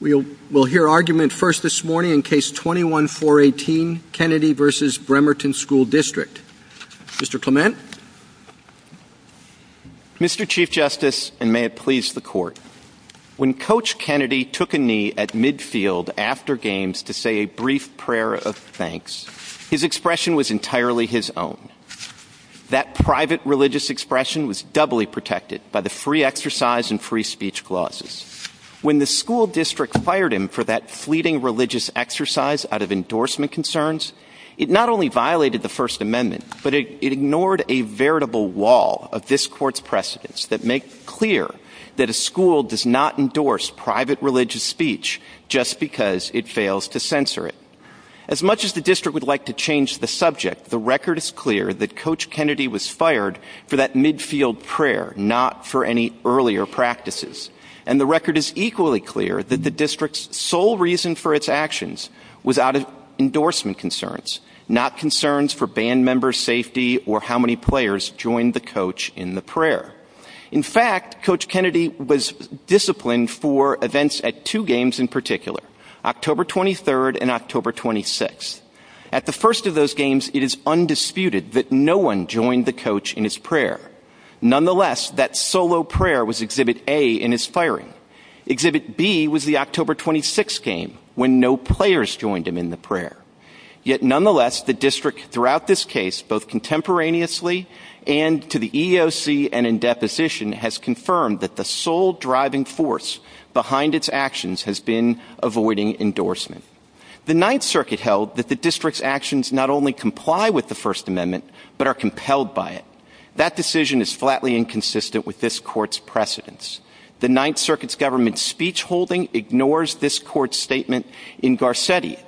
We will hear argument first this morning in Case 21-418, Kennedy v. Bremerton Sch. Dist. Mr. Clement? Mr. Chief Justice, and may it please the Court, when Coach Kennedy took a knee at midfield after games to say a brief prayer of thanks, his expression was entirely his own. That private religious expression was doubly protected by the free exercise and free speech clauses. When the school district fired him for that fleeting religious exercise out of endorsement concerns, it not only violated the First Amendment, but it ignored a veritable wall of this Court's precedents that make clear that a school does not endorse private religious speech just because it fails to censor it. As much as the district would like to change the subject, the record is clear that Coach Kennedy was fired for that midfield prayer, not for any earlier practices. And the record is equally clear that the district's sole reason for its actions was out of endorsement concerns, not concerns for band members' safety or how many players joined the coach in the prayer. In fact, Coach Kennedy was disciplined for events at two games in particular, October 23rd and October 26th. At the first of those games, it is undisputed that no one joined the coach in his prayer. Nonetheless, that solo prayer was Exhibit A in his firing. Exhibit B was the October 26th game, when no players joined him in the prayer. Yet nonetheless, the district throughout this case, both contemporaneously and to the EEOC and in deposition, has confirmed that the sole driving force behind its actions has been avoiding endorsement. The Ninth Circuit held that the district's actions not only comply with the First Amendment, but are compelled by it. That decision is flatly inconsistent with this court's precedence. The Ninth Circuit's government speech holding ignores this court's statement in Garcetti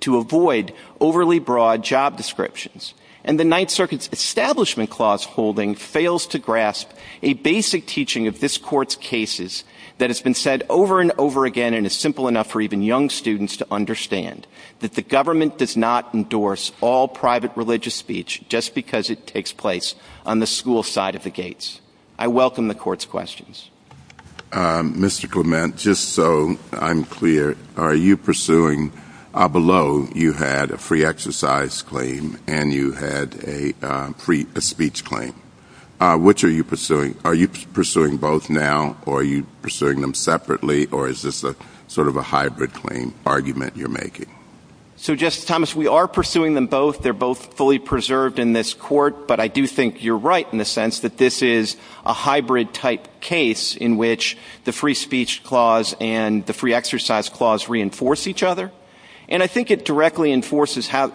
to avoid overly broad job descriptions. And the Ninth Circuit's establishment clause holding fails to grasp a basic teaching of this court's cases that has been said over and over again and is simple enough for even young students to understand that the government does not endorse all private religious speech just because it takes place on the school side of the gates. I welcome the court's questions. Mr. Clement, just so I'm clear, are you pursuing below you had a free exercise claim and you had a free speech claim? Which are you pursuing? Are you pursuing both now or are you pursuing them separately or is this sort of a hybrid claim argument you're making? So, Justice Thomas, we are pursuing them both. They're both fully preserved in this court. But I do think you're right in the sense that this is a hybrid type case in which the free speech clause and the free exercise clause reinforce each other. And I think it directly reinforces how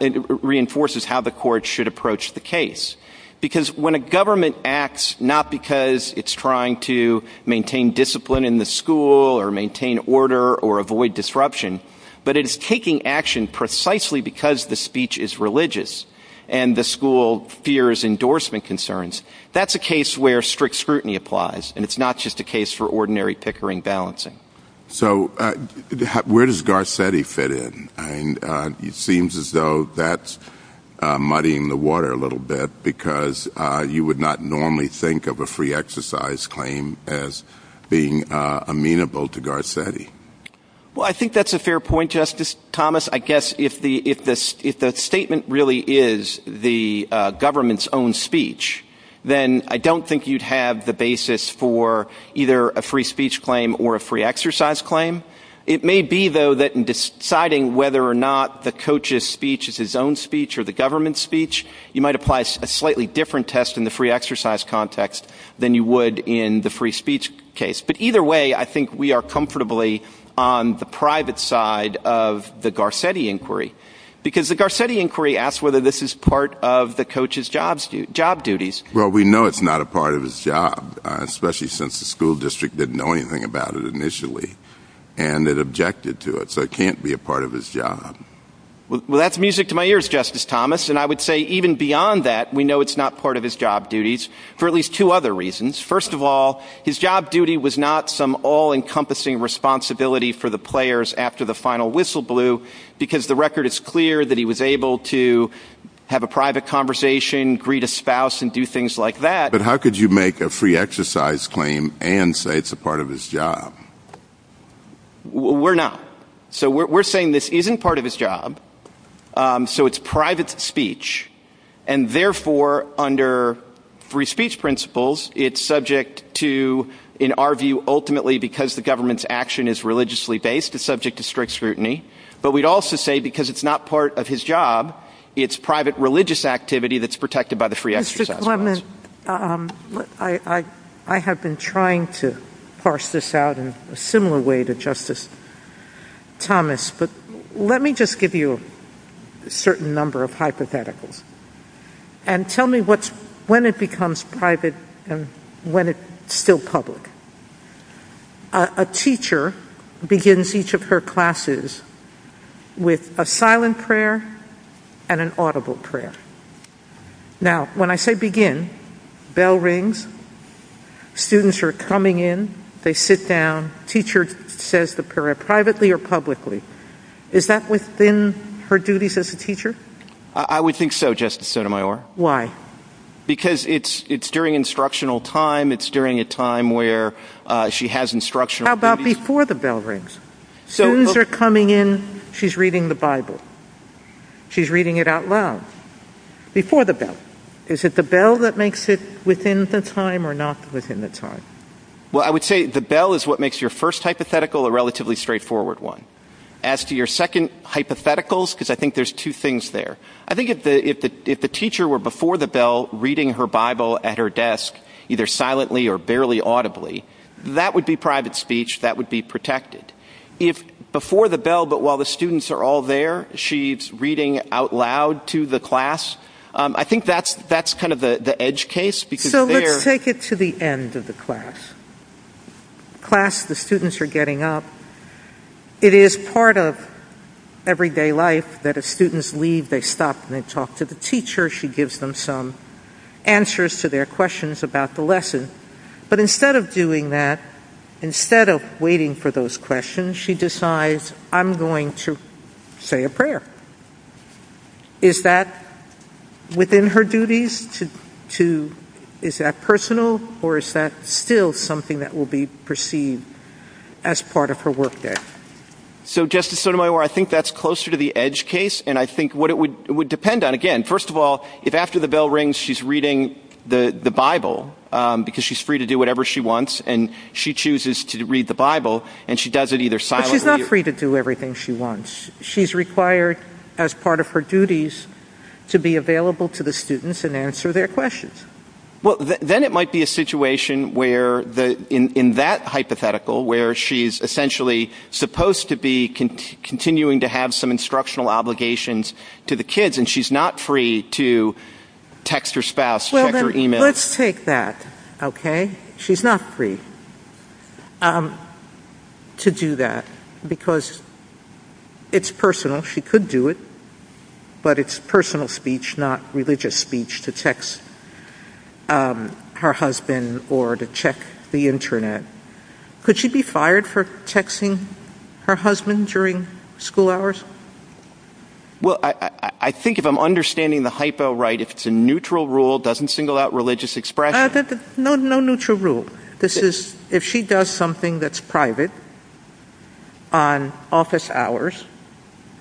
the court should approach the case. Because when a government acts not because it's trying to maintain discipline in the school or maintain order or avoid disruption, but it is taking action precisely because the speech is religious and the school fears endorsement concerns, that's a case where strict scrutiny applies and it's not just a case for ordinary pickering balancing. So, where does Garcetti fit in? It seems as though that's muddying the water a little bit because you would not normally think of a free exercise claim as being amenable to Garcetti. Well, I think that's a fair point, Justice Thomas. I guess if the statement really is the government's own speech, then I don't think you'd have the basis for either a free speech claim or a free exercise claim. It may be, though, that in deciding whether or not the coach's speech is his own speech or the government's speech, you might apply a slightly different test in the free exercise context than you would in the free speech case. But either way, I think we are comfortably on the private side of the Garcetti inquiry. Because the Garcetti inquiry asks whether this is part of the coach's job duties. Well, we know it's not a part of his job, especially since the school district didn't know anything about it initially and it objected to it, so it can't be a part of his job. Well, that's music to my ears, Justice Thomas. And I would say even beyond that, we know it's not part of his job duties for at least two other reasons. First of all, his job duty was not some all-encompassing responsibility for the players after the final whistle blew because the record is clear that he was able to have a private conversation, greet a spouse and do things like that. But how could you make a free exercise claim and say it's a part of his job? We're not. So we're saying this isn't part of his job, so it's private speech. And therefore, under free speech principles, it's subject to, in our view, ultimately because the government's action is religiously based, it's subject to strict scrutiny. But we'd also say because it's not part of his job, it's private religious activity that's protected by the free exercise laws. I have been trying to parse this out in a similar way to Justice Thomas, but let me just give you a certain number of hypotheticals. And tell me when it becomes private and when it's still public. A teacher begins each of her classes with a silent prayer and an audible prayer. Now, when I say begin, bell rings, students are coming in, they sit down, teacher says the prayer privately or publicly. Is that within her duties as a teacher? I would think so, Justice Sotomayor. Why? Because it's during instructional time, it's during a time where she has instructional duties. How about before the bell rings? Students are coming in, she's reading the Bible. She's reading it out loud. Before the bell. Is it the bell that makes it within the time or not within the time? Well, I would say the bell is what makes your first hypothetical a relatively straightforward one. As to your second hypothetical, because I think there's two things there. I think if the teacher were before the bell reading her Bible at her desk, either silently or barely audibly, that would be private speech, that would be protected. If before the bell, but while the students are all there, she's reading out loud to the class, I think that's kind of the edge case. So let's take it to the end of the class. Class, the students are getting up. It is part of everyday life that if students leave, they stop and they talk to the teacher. She gives them some answers to their questions about the lesson. But instead of doing that, instead of waiting for those questions, she decides, I'm going to say a prayer. Is that within her duties? Is that personal? Or is that still something that will be perceived as part of her workday? So, Justice Sotomayor, I think that's closer to the edge case. And I think what it would depend on, again, first of all, if after the bell rings she's reading the Bible, because she's free to do whatever she wants, and she chooses to read the Bible, and she does it either silently or... But she's not free to do everything she wants. She's required, as part of her duties, to be available to the students and answer their questions. Well, then it might be a situation where, in that hypothetical, where she's essentially supposed to be continuing to have some instructional obligations to the kids, and she's not free to text her spouse, check her email. Let's take that, okay? She's not free to do that, because it's personal. She could do it, but it's personal speech, not religious speech, to text her husband or to check the Internet. Could she be fired for texting her husband during school hours? Well, I think if I'm understanding the hypo right, if it's a neutral rule, doesn't single out religious expression? No, no neutral rule. If she does something that's private on office hours,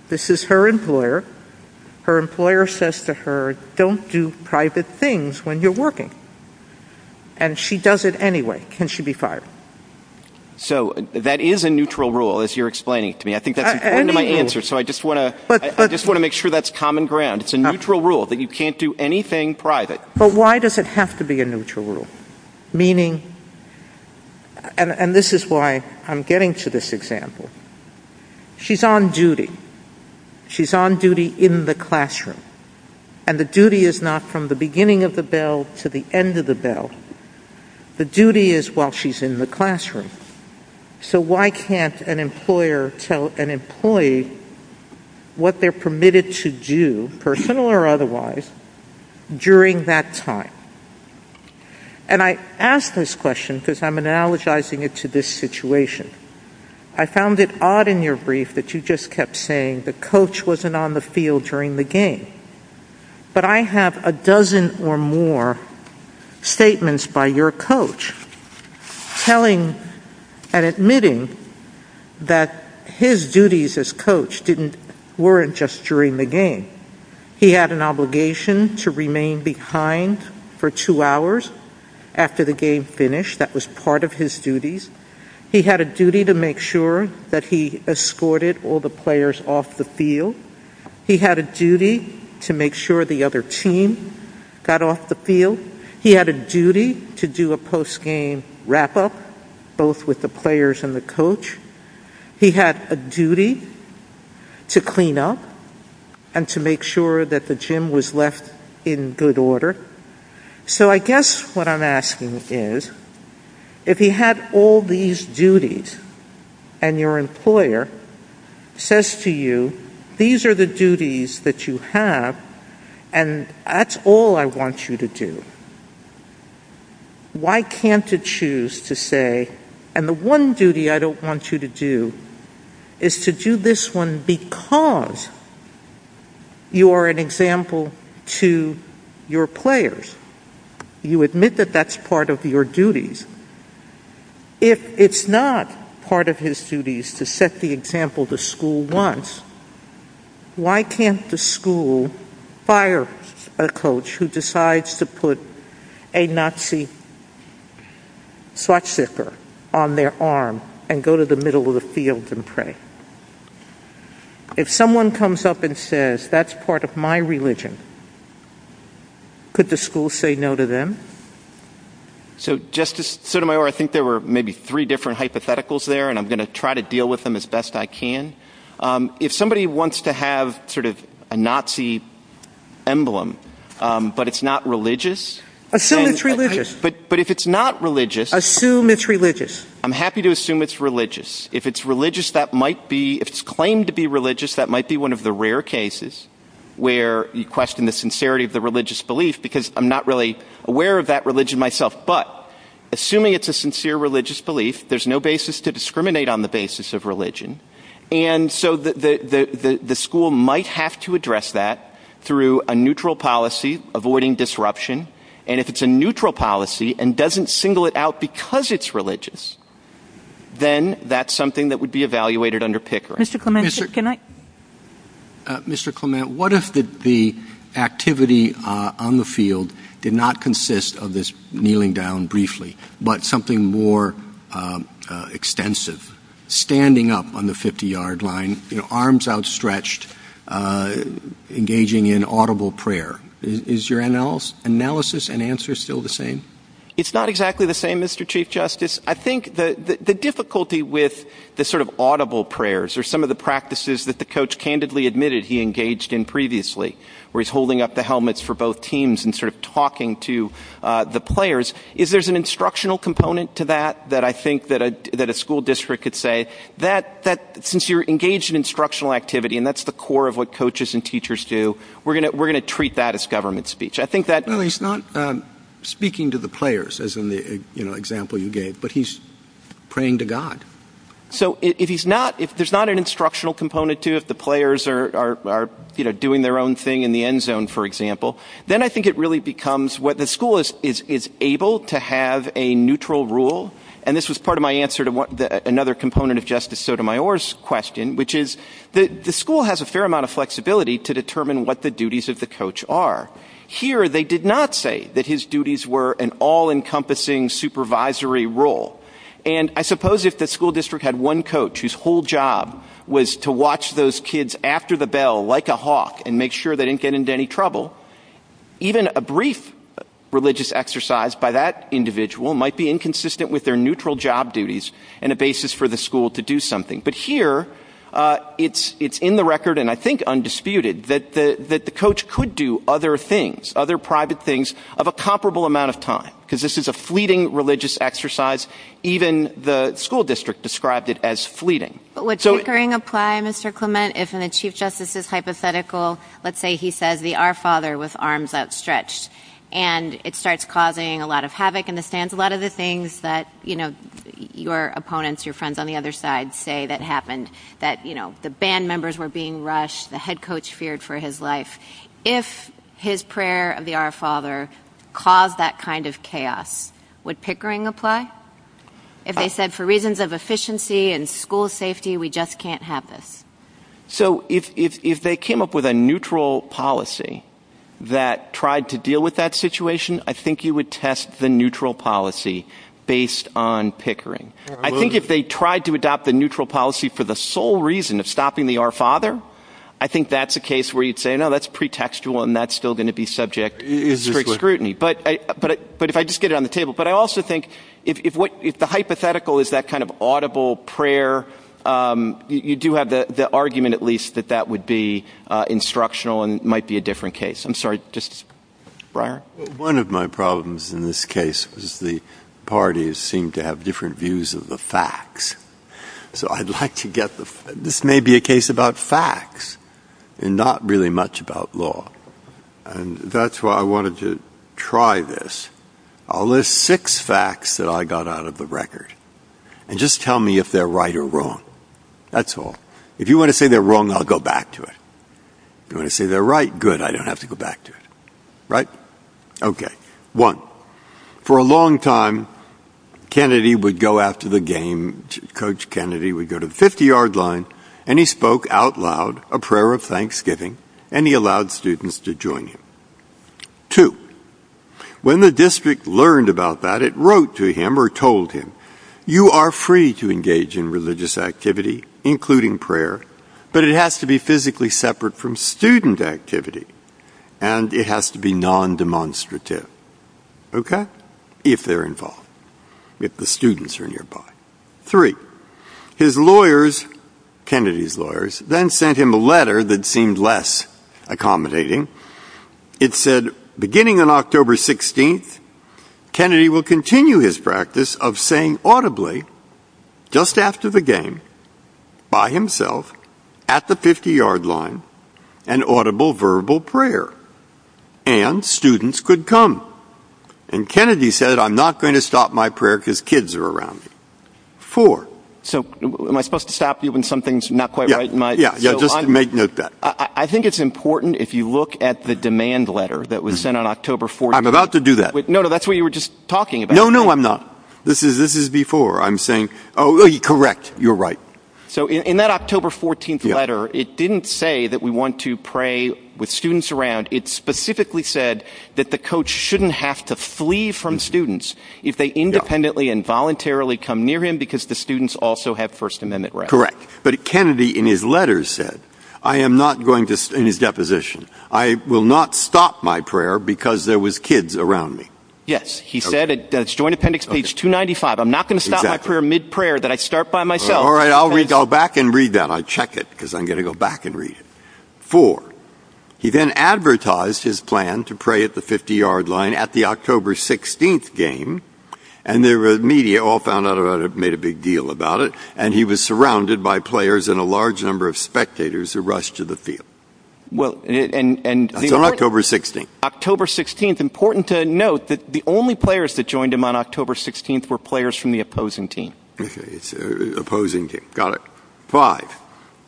this is her employer. Her employer says to her, don't do private things when you're working. And she does it anyway. Can she be fired? So that is a neutral rule, as you're explaining to me. I think that's important to my answer, so I just want to make sure that's common ground. It's a neutral rule that you can't do anything private. But why does it have to be a neutral rule? Meaning, and this is why I'm getting to this example. She's on duty. She's on duty in the classroom. And the duty is not from the beginning of the bell to the end of the bell. The duty is while she's in the classroom. So why can't an employer tell an employee what they're permitted to do, personal or otherwise, during that time? And I ask this question because I'm analogizing it to this situation. I found it odd in your brief that you just kept saying the coach wasn't on the field during the game. But I have a dozen or more statements by your coach telling and admitting that his duties as coach weren't just during the game. He had an obligation to remain behind for two hours after the game finished. That was part of his duties. He had a duty to make sure that he escorted all the players off the field. He had a duty to make sure the other team got off the field. He had a duty to do a post-game wrap-up, both with the players and the coach. He had a duty to clean up and to make sure that the gym was left in good order. So I guess what I'm asking is, if he had all these duties and your employer says to you, these are the duties that you have and that's all I want you to do, why can't it choose to say, and the one duty I don't want you to do is to do this one because you are an example to your players. You admit that that's part of your duties. If it's not part of his duties to set the example the school wants, why can't the school fire a coach who decides to put a Nazi swastika on their arm and go to the middle of the field and pray? If someone comes up and says, that's part of my religion, could the school say no to them? So Justice Sotomayor, I think there were maybe three different hypotheticals there, and I'm going to try to deal with them as best I can. If somebody wants to have sort of a Nazi emblem, but it's not religious... Assume it's religious. But if it's not religious... Assume it's religious. I'm happy to assume it's religious. If it's claimed to be religious, that might be one of the rare cases where you question the sincerity of the religious belief because I'm not really aware of that religion myself. But assuming it's a sincere religious belief, there's no basis to discriminate on the basis of religion. And so the school might have to address that through a neutral policy, avoiding disruption. And if it's a neutral policy and doesn't single it out because it's religious, then that's something that would be evaluated under Pickering. Mr. Clement, what if the activity on the field did not consist of this kneeling down briefly, but something more extensive, standing up on the 50-yard line, arms outstretched, engaging in audible prayer? Is your analysis and answer still the same? It's not exactly the same, Mr. Chief Justice. I think the difficulty with the sort of audible prayers or some of the practices that the coach candidly admitted he engaged in previously, where he's holding up the helmets for both teams and sort of talking to the players, if there's an instructional component to that that I think that a school district could say, that since you're engaged in instructional activity and that's the core of what coaches and teachers do, we're going to treat that as government speech. No, he's not speaking to the players, as in the example you gave, but he's praying to God. So if there's not an instructional component to it, if the players are doing their own thing in the end zone, for example, then I think it really becomes what the school is able to have a neutral rule. And this was part of my answer to another component of Justice Sotomayor's question, which is the school has a fair amount of flexibility to determine what the duties of the coach are. Here, they did not say that his duties were an all-encompassing supervisory role. And I suppose if the school district had one coach whose whole job was to watch those kids after the bell like a hawk and make sure they didn't get into any trouble, even a brief religious exercise by that individual might be inconsistent with their neutral job duties and a basis for the school to do something. But here, it's in the record, and I think undisputed, that the coach could do other things, other private things, of a comparable amount of time. Because this is a fleeting religious exercise. Even the school district described it as fleeting. But would tinkering apply, Mr. Clement, if in the Chief Justice's hypothetical, let's say he said the Our Father was arms outstretched, and it starts causing a lot of havoc in the stands, a lot of the things that your opponents, your friends on the other side say that happened, that the band members were being rushed, the head coach feared for his life. If his prayer of the Our Father caused that kind of chaos, would pickering apply? If they said for reasons of efficiency and school safety, we just can't have this? So if they came up with a neutral policy that tried to deal with that situation, I think you would test the neutral policy based on pickering. I think if they tried to adopt the neutral policy for the sole reason of stopping the Our Father, I think that's a case where you'd say, no, that's pretextual, and that's still going to be subject for scrutiny. But if I just get it on the table, but I also think if the hypothetical is that kind of audible prayer, you do have the argument at least that that would be instructional and might be a different case. One of my problems in this case is the parties seem to have different views of the facts. So I'd like to get this may be a case about facts and not really much about law. And that's why I wanted to try this. I'll list six facts that I got out of the record and just tell me if they're right or wrong. That's all. If you want to say they're wrong, I'll go back to it. If you want to say they're right, good, I don't have to go back to it. One, for a long time, Kennedy would go after the game, Coach Kennedy would go to the 50-yard line, and he spoke out loud a prayer of thanksgiving, and he allowed students to join him. Two, when the district learned about that, it wrote to him or told him, you are free to engage in religious activity, including prayer, but it has to be physically separate from student activity, and it has to be non-demonstrative. Okay, if they're involved, if the students are nearby. Three, his lawyers, Kennedy's lawyers, then sent him a letter that seemed less accommodating. It said, beginning on October 16th, Kennedy will continue his practice of saying audibly, just after the game, by himself, at the 50-yard line, an audible, verbal prayer, and students could come. And Kennedy said, I'm not going to stop my prayer because kids are around. Four. So, am I supposed to stop you when something's not quite right in my... Yeah, yeah, just to make note of that. I think it's important, if you look at the demand letter that was sent on October 14th... I'm about to do that. No, no, that's what you were just talking about. No, no, I'm not. This is before. I'm saying, oh, correct, you're right. So, in that October 14th letter, it didn't say that we want to pray with students around. It specifically said that the coach shouldn't have to flee from students if they independently and voluntarily come near him because the students also have First Amendment rights. Correct. But Kennedy, in his letters, said, I am not going to, in his deposition, I will not stop my prayer because there was kids around me. Yes, he said it. That's Joint Appendix, page 295. I'm not going to stop my prayer mid-prayer that I start by myself. All right, I'll read, I'll back and read that. I check it because I'm going to go back and read it. Four. He then advertised his plan to pray at the 50-yard line at the October 16th game, and the media all found out about it, made a big deal about it, and he was surrounded by players and a large number of spectators who rushed to the field. Well, and... Until October 16th. October 16th. Important to note that the only players that joined him on October 16th were players from the opposing team. Opposing team. Got it. Five.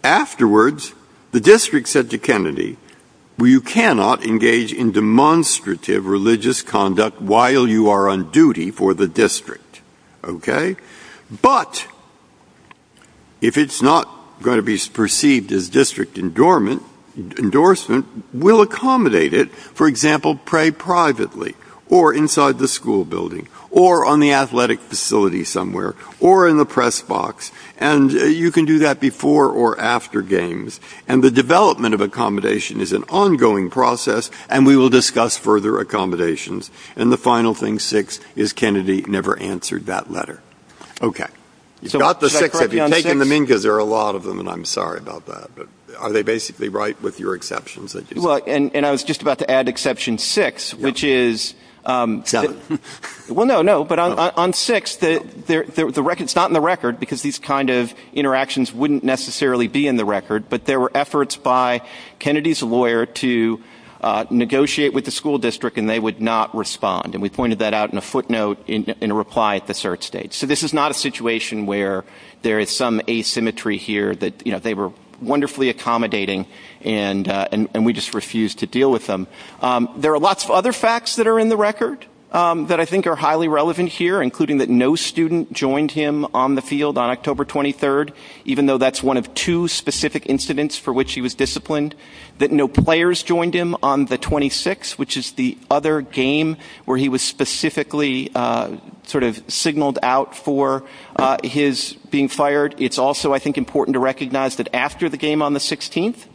Afterwards, the district said to Kennedy, you cannot engage in demonstrative religious conduct while you are on duty for the district. Okay? But if it's not going to be perceived as district endorsement, we'll accommodate it. For example, pray privately, or inside the school building, or on the athletic facility somewhere, or in the press box. And you can do that before or after games. And the development of accommodation is an ongoing process, and we will discuss further accommodations. And the final thing, six, is Kennedy never answered that letter. Okay. He's got the six, but he's taken them in because there are a lot of them, and I'm sorry about that. Are they basically right with your exceptions? Well, and I was just about to add exception six, which is... Seven. Well, no, no. But on six, it's not in the record, because these kind of interactions wouldn't necessarily be in the record, but there were efforts by Kennedy's lawyer to negotiate with the school district, and they would not respond. And we pointed that out in a footnote in a reply at the cert stage. So this is not a situation where there is some asymmetry here, that they were wonderfully accommodating and we just refused to deal with them. There are lots of other facts that are in the record that I think are highly relevant here, including that no student joined him on the field on October 23rd, even though that's one of two specific incidents for which he was disciplined, that no players joined him on the 26th, which is the other game where he was specifically sort of signaled out for his being fired. It's also, I think, important to recognize that after the game on the 16th,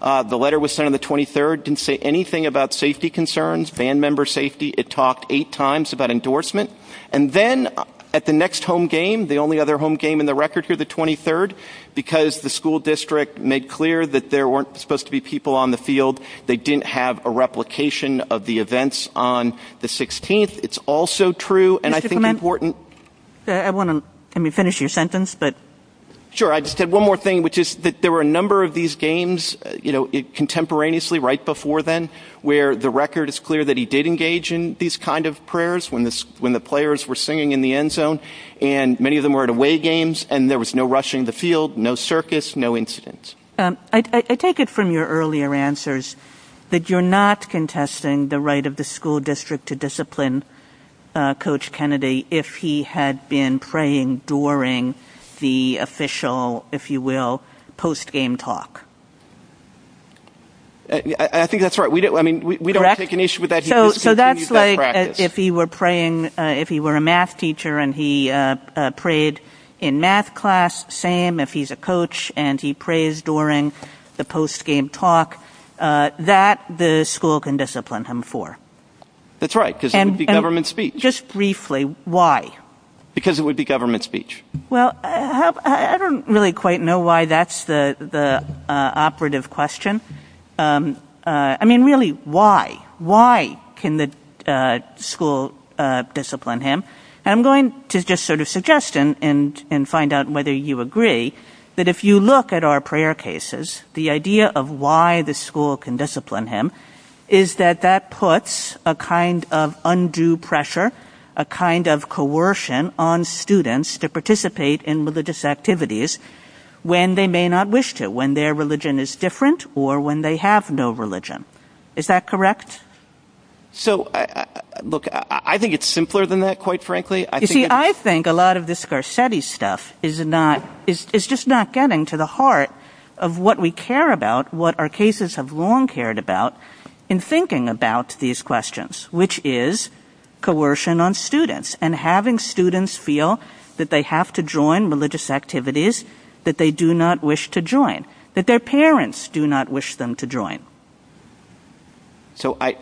the letter was sent on the 23rd. It didn't say anything about safety concerns, band member safety. It talked eight times about endorsement. And then at the next home game, the only other home game in the record here, the 23rd, because the school district made clear that there weren't supposed to be people on the field, they didn't have a replication of the events on the 16th. It's also true, and I think important... Sure, I just had one more thing, which is that there were a number of these games, you know, contemporaneously, right before then, where the record is clear that he did engage in these kind of prayers when the players were singing in the end zone, and many of them were at away games, and there was no rushing the field, no circus, no incidents. I take it from your earlier answers that you're not contesting the right of the school district to discipline Coach Kennedy if he had been praying during the official, if you will, post-game talk. I think that's right. We don't have to make an issue with that. So that's like if he were praying, if he were a math teacher and he prayed in math class, same if he's a coach and he prays during the post-game talk, that the school can discipline him for. That's right, because it would be government speech. Just briefly, why? Because it would be government speech. Well, I don't really quite know why that's the operative question. I mean, really, why? Why can the school discipline him? I'm going to just sort of suggest and find out whether you agree that if you look at our prayer cases, the idea of why the school can discipline him is that that puts a kind of undue pressure, a kind of coercion on students to participate in religious activities when they may not wish to, when their religion is different or when they have no religion. Is that correct? So, look, I think it's simpler than that, quite frankly. You see, I think a lot of this Garcetti stuff is just not getting to the heart of what we care about, what our cases have long cared about in thinking about these questions, which is coercion on students and having students feel that they have to join religious activities that they do not wish to join, that their parents do not wish them to join. So I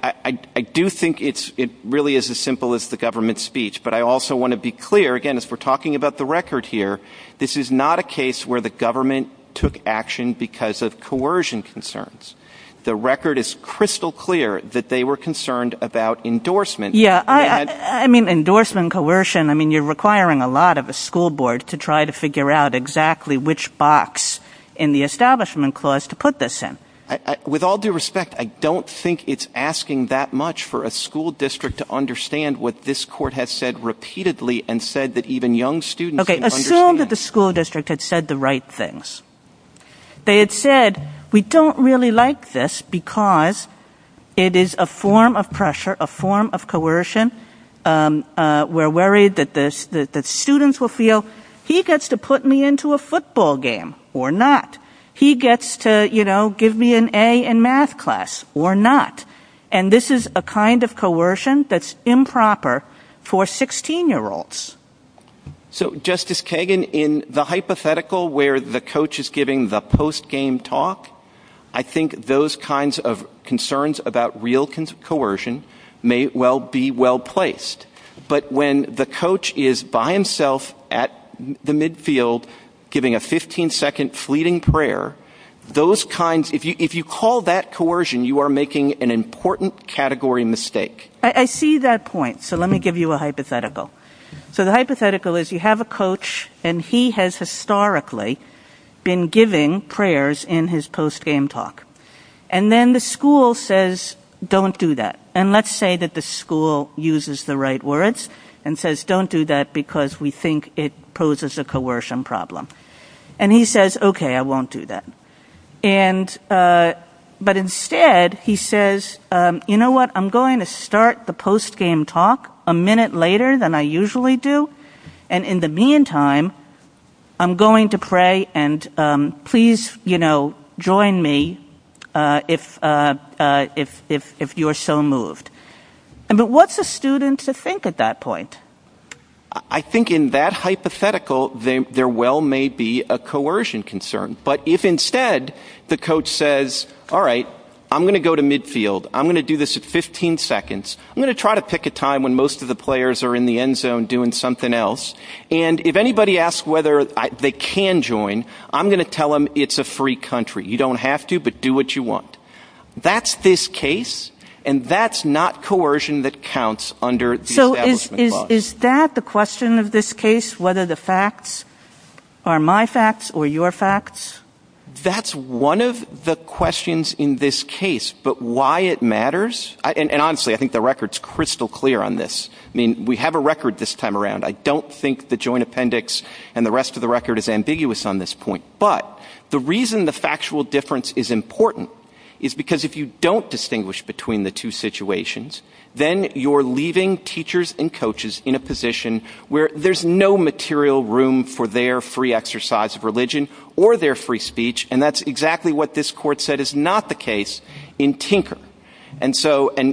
do think it really is as simple as the government speech, but I also want to be clear, again, as we're talking about the record here, this is not a case where the government took action because of coercion concerns. The record is crystal clear that they were concerned about endorsement. Yeah, I mean, endorsement, coercion, I mean, you're requiring a lot of a school board to try to figure out exactly which box in the establishment clause to put this in. With all due respect, I don't think it's asking that much for a school district to understand what this court has said repeatedly and said that even young students can understand. Okay, assume that the school district had said the right things. They had said, we don't really like this because it is a form of pressure, a form of coercion. We're worried that the students will feel, he gets to put me into a football game or not. He gets to, you know, give me an A in math class or not. And this is a kind of coercion that's improper for 16-year-olds. So, Justice Kagan, in the hypothetical where the coach is giving the post-game talk, I think those kinds of concerns about real coercion may well be well placed. But when the coach is by himself at the midfield giving a 15-second fleeting prayer, those kinds, if you call that coercion, you are making an important category mistake. I see that point, so let me give you a hypothetical. So the hypothetical is you have a coach and he has historically been giving prayers in his post-game talk. And then the school says, don't do that. And let's say that the school uses the right words and says, don't do that because we think it poses a coercion problem. And he says, okay, I won't do that. But instead he says, you know what, I'm going to start the post-game talk a minute later than I usually do. And in the meantime, I'm going to pray and please, you know, join me if you're so moved. But what's a student to think at that point? I think in that hypothetical there well may be a coercion concern. But if instead the coach says, all right, I'm going to go to midfield. I'm going to do this at 15 seconds. I'm going to try to pick a time when most of the players are in the end zone doing something else. And if anybody asks whether they can join, I'm going to tell them it's a free country. You don't have to, but do what you want. That's this case. And that's not coercion that counts under the establishment clause. So is that the question of this case, whether the facts are my facts or your facts? That's one of the questions in this case. But why it matters, and honestly, I think the record's crystal clear on this. I mean, we have a record this time around. I don't think the joint appendix and the rest of the record is ambiguous on this point. But the reason the factual difference is important is because if you don't distinguish between the two situations, then you're leaving teachers and coaches in a position where there's no material room for their free exercise of religion or their free speech. And that's exactly what this court said is not the case in Tinker. And,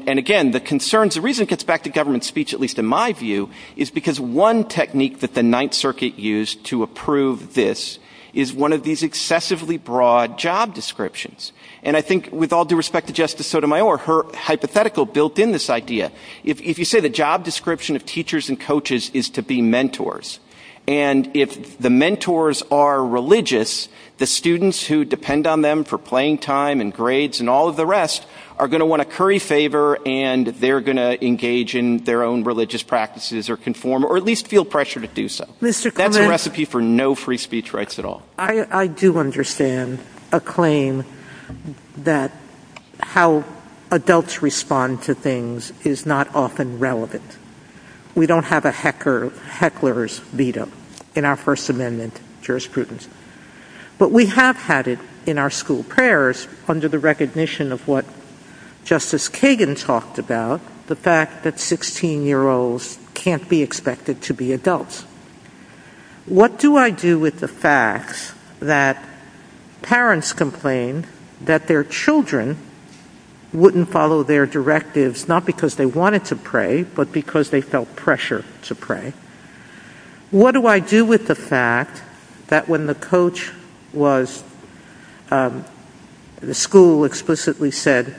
again, the reason it gets back to government speech, at least in my view, is because one technique that the Ninth Circuit used to approve this is one of these excessively broad job descriptions. And I think with all due respect to Justice Sotomayor, her hypothetical built in this idea, if you say the job description of teachers and coaches is to be mentors, and if the mentors are religious, the students who depend on them for playing time and grades and all of the rest are going to want to curry favor and they're going to engage in their own religious practices or conform or at least feel pressure to do so. That's a recipe for no free speech rights at all. I do understand a claim that how adults respond to things is not often relevant. We don't have a heckler's veto in our First Amendment jurisprudence. But we have had it in our school prayers under the recognition of what Justice Kagan talked about, the fact that 16-year-olds can't be expected to be adults. What do I do with the facts that parents complain that their children wouldn't follow their directives, not because they wanted to pray but because they felt pressure to pray? What do I do with the fact that when the coach was, the school explicitly said,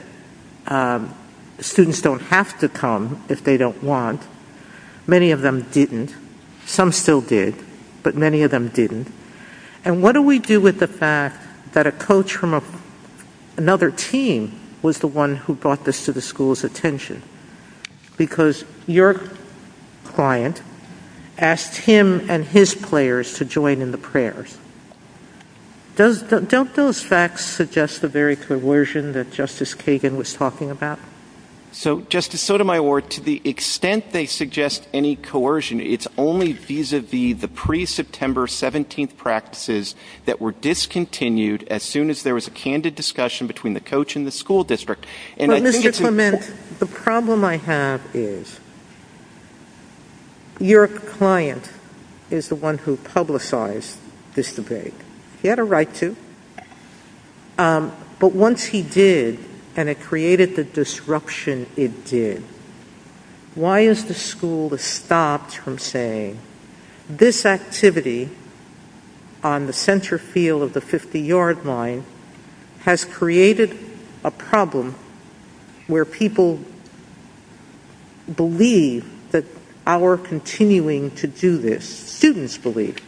students don't have to come if they don't want. Many of them didn't. Some still did. But many of them didn't. And what do we do with the fact that a coach from another team was the one who brought this to the school's attention because your client asked him and his players to join in the prayers? Don't those facts suggest the very coercion that Justice Kagan was talking about? Justice Sotomayor, to the extent they suggest any coercion, it's only vis-à-vis the pre-September 17th practices that were discontinued as soon as there was a candid discussion between the coach and the school district. But, Mr. Clement, the problem I have is your client is the one who publicized this debate. He had a right to. But once he did and it created the disruption it did, why is the school stopped from saying, this activity on the center field of the 50-yard line has created a problem where people believe that our continuing to do this, students believe,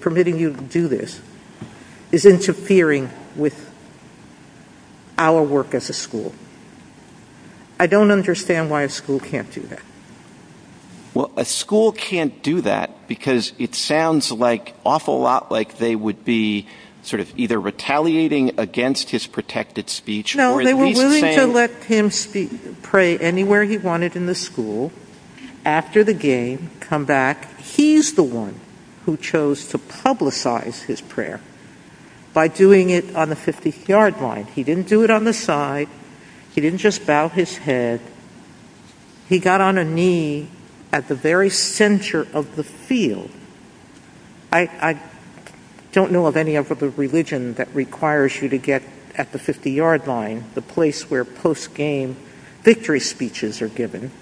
permitting you to do this, is interfering with our work as a school? I don't understand why a school can't do that. Well, a school can't do that because it sounds an awful lot like they would be sort of either retaliating against his protected speech or at least saying it. No, they were willing to let him pray anywhere he wanted in the school. After the game, come back. He's the one who chose to publicize his prayer by doing it on the 50-yard line. He didn't do it on the side. He didn't just bow his head. He got on a knee at the very center of the field. I don't know of any other religion that requires you to get at the 50-yard line, the place where post-game victory speeches are given.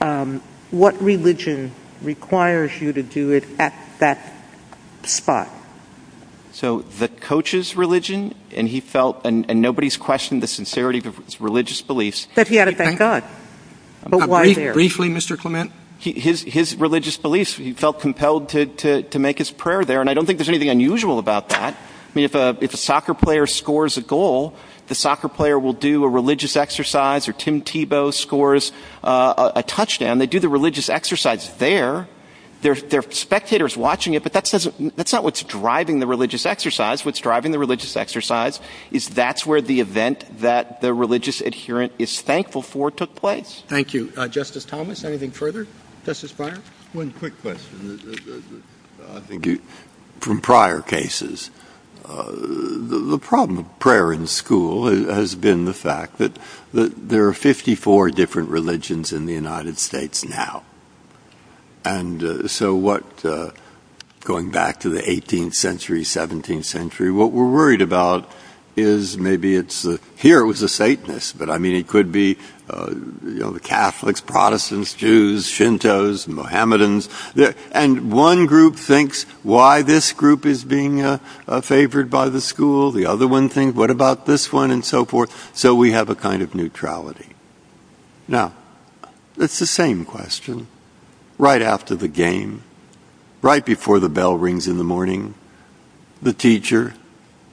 What religion requires you to do it at that spot? So the coach's religion, and nobody's questioned the sincerity of his religious beliefs. He said he had a thank God. Briefly, Mr. Clement? His religious beliefs, he felt compelled to make his prayer there, and I don't think there's anything unusual about that. If a soccer player scores a goal, the soccer player will do a religious exercise, or Tim Tebow scores a touchdown, they do the religious exercise there. The spectator's watching it, but that's not what's driving the religious exercise. What's driving the religious exercise is that's where the event that the religious adherent is thankful for took place. Thank you. Justice Thomas, anything further? Justice Breyer? One quick question. From prior cases, the problem of prayer in school has been the fact that there are 54 different religions in the United States now, and so what, going back to the 18th century, 17th century, what we're worried about is maybe it's, here it was the Satanists, but I mean it could be the Catholics, Protestants, Jews, Shintos, Mohammedans, and one group thinks why this group is being favored by the school, the other one thinks what about this one, and so forth, so we have a kind of neutrality. Now, it's the same question. Right after the game, right before the bell rings in the morning, the teacher,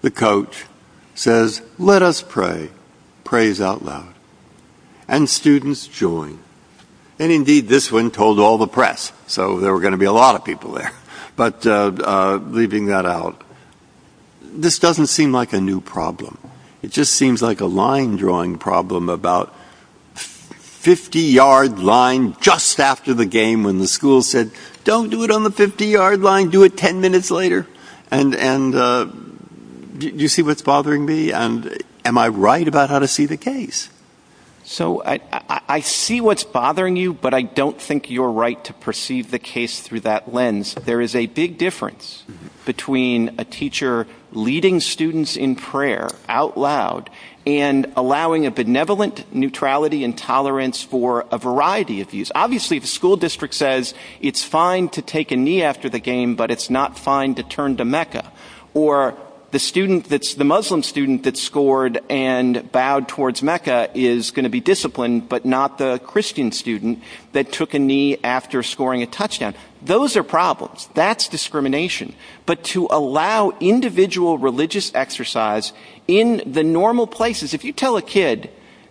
the coach, says, let us pray, praise out loud, and students join, and indeed this one told all the press, so there were going to be a lot of people there, but leaving that out, this doesn't seem like a new problem. It just seems like a line drawing problem about 50-yard line just after the game when the school said, don't do it on the 50-yard line, do it 10 minutes later, and do you see what's bothering me, and am I right about how to see the case? So, I see what's bothering you, but I don't think you're right to perceive the case through that lens. There is a big difference between a teacher leading students in prayer out loud, and allowing a benevolent neutrality and tolerance for a variety of views. Obviously, the school district says it's fine to take a knee after the game, but it's not fine to turn to Mecca, or the Muslim student that scored and bowed towards Mecca is going to be disciplined, but not the Christian student that took a knee after scoring a touchdown. Those are problems. That's discrimination. But to allow individual religious exercise in the normal places, if you tell a kid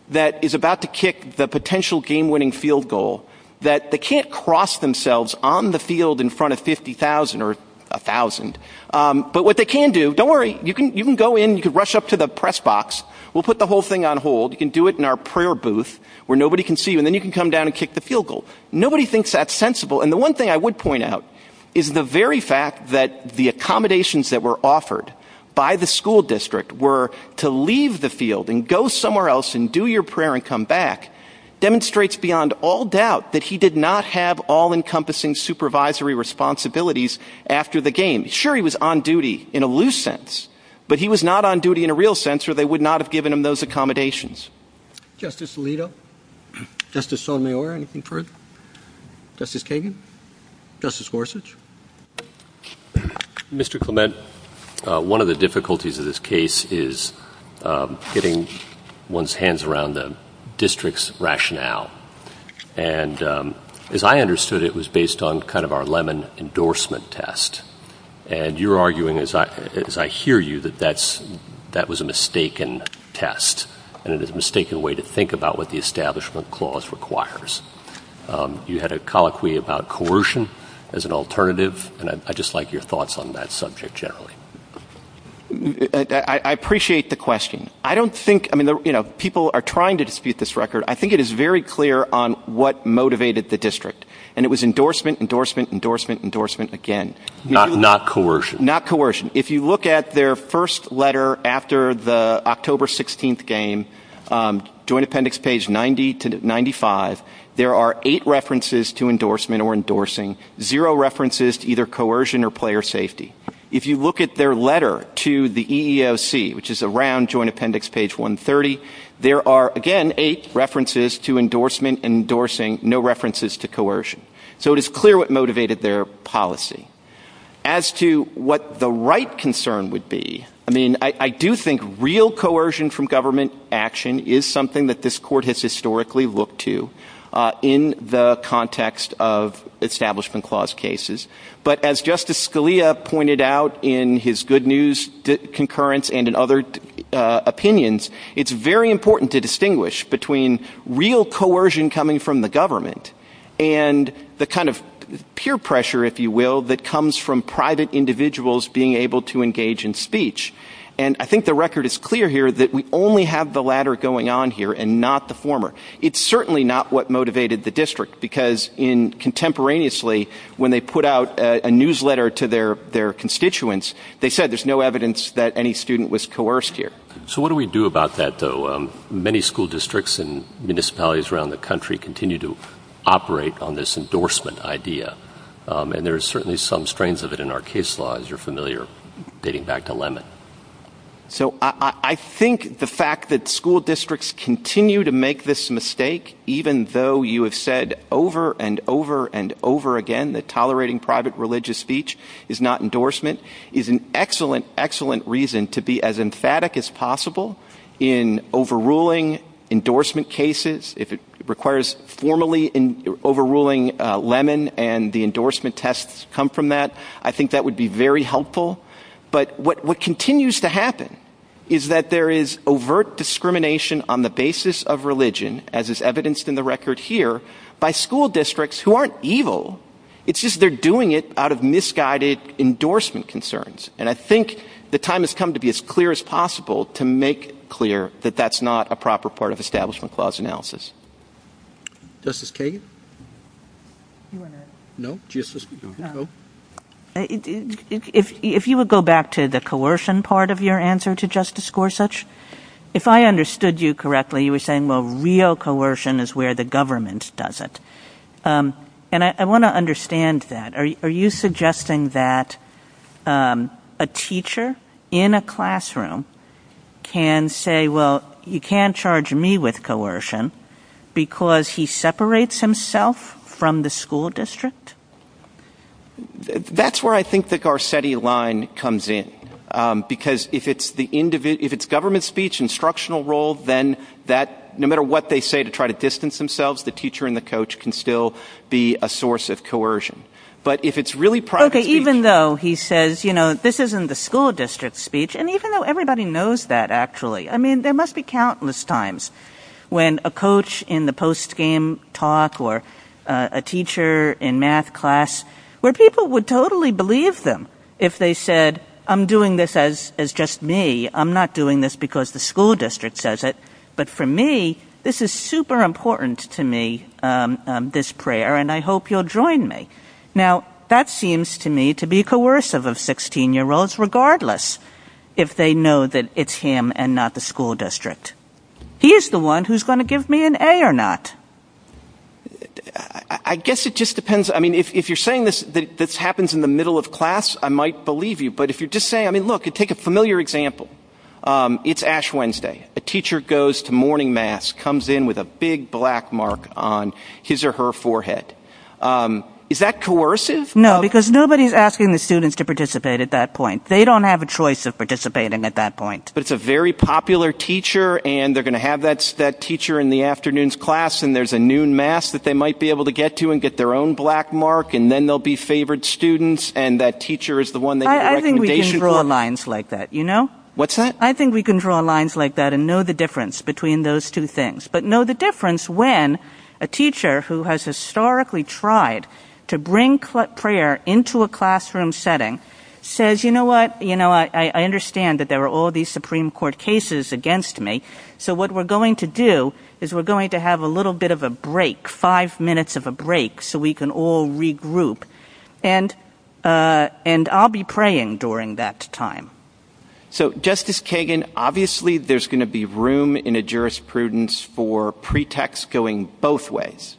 that is about to kick the potential game-winning field goal, that they can't cross themselves on the field in front of 50,000 or 1,000, but what they can do, don't worry, you can go in, you can rush up to the press box, we'll put the whole thing on hold, you can do it in our prayer booth where nobody can see you, and then you can come down and kick the field goal. Nobody thinks that's sensible. And the one thing I would point out is the very fact that the accommodations that were offered by the school district were to leave the field and go somewhere else and do your prayer and come back demonstrates beyond all doubt that he did not have all-encompassing supervisory responsibilities after the game. Sure, he was on duty in a loose sense, but he was not on duty in a real sense, or they would not have given him those accommodations. Justice Alito? Justice Sotomayor, anything further? Justice Kagan? Justice Gorsuch? Mr. Clement, one of the difficulties of this case is getting one's hands around the district's rationale, and as I understood it, it was based on kind of our Lemon endorsement test, and you're arguing, as I hear you, that that was a mistaken test, and it is a mistaken way to think about what the establishment clause requires. You had a colloquy about coercion as an alternative, and I'd just like your thoughts on that subject generally. I appreciate the question. I don't think, you know, people are trying to dispute this record. I think it is very clear on what motivated the district, and it was endorsement, endorsement, endorsement, endorsement again. Not coercion. Not coercion. If you look at their first letter after the October 16th game, Joint Appendix page 90 to 95, there are eight references to endorsement or endorsing, zero references to either coercion or player safety. If you look at their letter to the EEOC, which is around Joint Appendix page 130, there are, again, eight references to endorsement, endorsing, no references to coercion. So it is clear what motivated their policy. As to what the right concern would be, I mean, I do think real coercion from government action is something that this court has historically looked to in the context of establishment clause cases, but as Justice Scalia pointed out in his good news concurrence and in other opinions, it is very important to distinguish between real coercion coming from the government and the kind of peer pressure, if you will, that comes from private individuals being able to engage in speech. And I think the record is clear here that we only have the latter going on here and not the former. It is certainly not what motivated the district because contemporaneously, when they put out a newsletter to their constituents, they said there is no evidence that any student was coerced here. So what do we do about that, though? Many school districts and municipalities around the country continue to operate on this endorsement idea, and there are certainly some strains of it in our case laws, you're familiar, dating back to Lemon. So I think the fact that school districts continue to make this mistake, even though you have said over and over and over again that tolerating private religious speech is not endorsement, is an excellent, excellent reason to be as emphatic as possible in overruling endorsement cases. If it requires formally overruling Lemon and the endorsement tests come from that, I think that would be very helpful. But what continues to happen is that there is overt discrimination on the basis of religion, as is evidenced in the record here, by school districts who aren't evil. It's just they're doing it out of misguided endorsement concerns, and I think the time has come to be as clear as possible to make clear that that's not a proper part of Establishment Clause analysis. If you would go back to the coercion part of your answer to Justice Gorsuch, if I understood you correctly, you were saying, well, real coercion is where the government does it. And I want to understand that. Are you suggesting that a teacher in a classroom can say, well, you can't charge me with coercion because he separates himself from the school district? That's where I think the Garcetti line comes in, because if it's government speech, instructional role, then that no matter what they say to try to distance themselves, the teacher and the coach can still be a source of coercion. But if it's really private, even though he says, you know, this isn't the school district speech. And even though everybody knows that, actually, I mean, there must be countless times when a coach in the post game talk or a teacher in math class where people would totally believe them if they said, I'm doing this as as just me. I'm not doing this because the school district says it. But for me, this is super important to me, this prayer. And I hope you'll join me now. That seems to me to be coercive of 16 year olds, regardless. If they know that it's him and not the school district, he is the one who's going to give me an A or not. I guess it just depends. I mean, if you're saying this, this happens in the middle of class, I might believe you. But if you just say, I mean, look, take a familiar example. It's Ash Wednesday. A teacher goes to morning mass, comes in with a big black mark on his or her forehead. Is that coercive? No, because nobody's asking the students to participate at that point. They don't have a choice of participating at that point. But it's a very popular teacher and they're going to have that teacher in the afternoon's class. And there's a noon mass that they might be able to get to and get their own black mark. And then there'll be favored students and that teacher is the one that I think we can draw lines like that. You know what's that? I think we can draw lines like that and know the difference between those two things. But know the difference when a teacher who has historically tried to bring prayer into a classroom setting says, you know what? You know, I understand that there are all these Supreme Court cases against me. So what we're going to do is we're going to have a little bit of a break, five minutes of a break. So we can all regroup and and I'll be praying during that time. So, Justice Kagan, obviously, there's going to be room in a jurisprudence for pretext going both ways.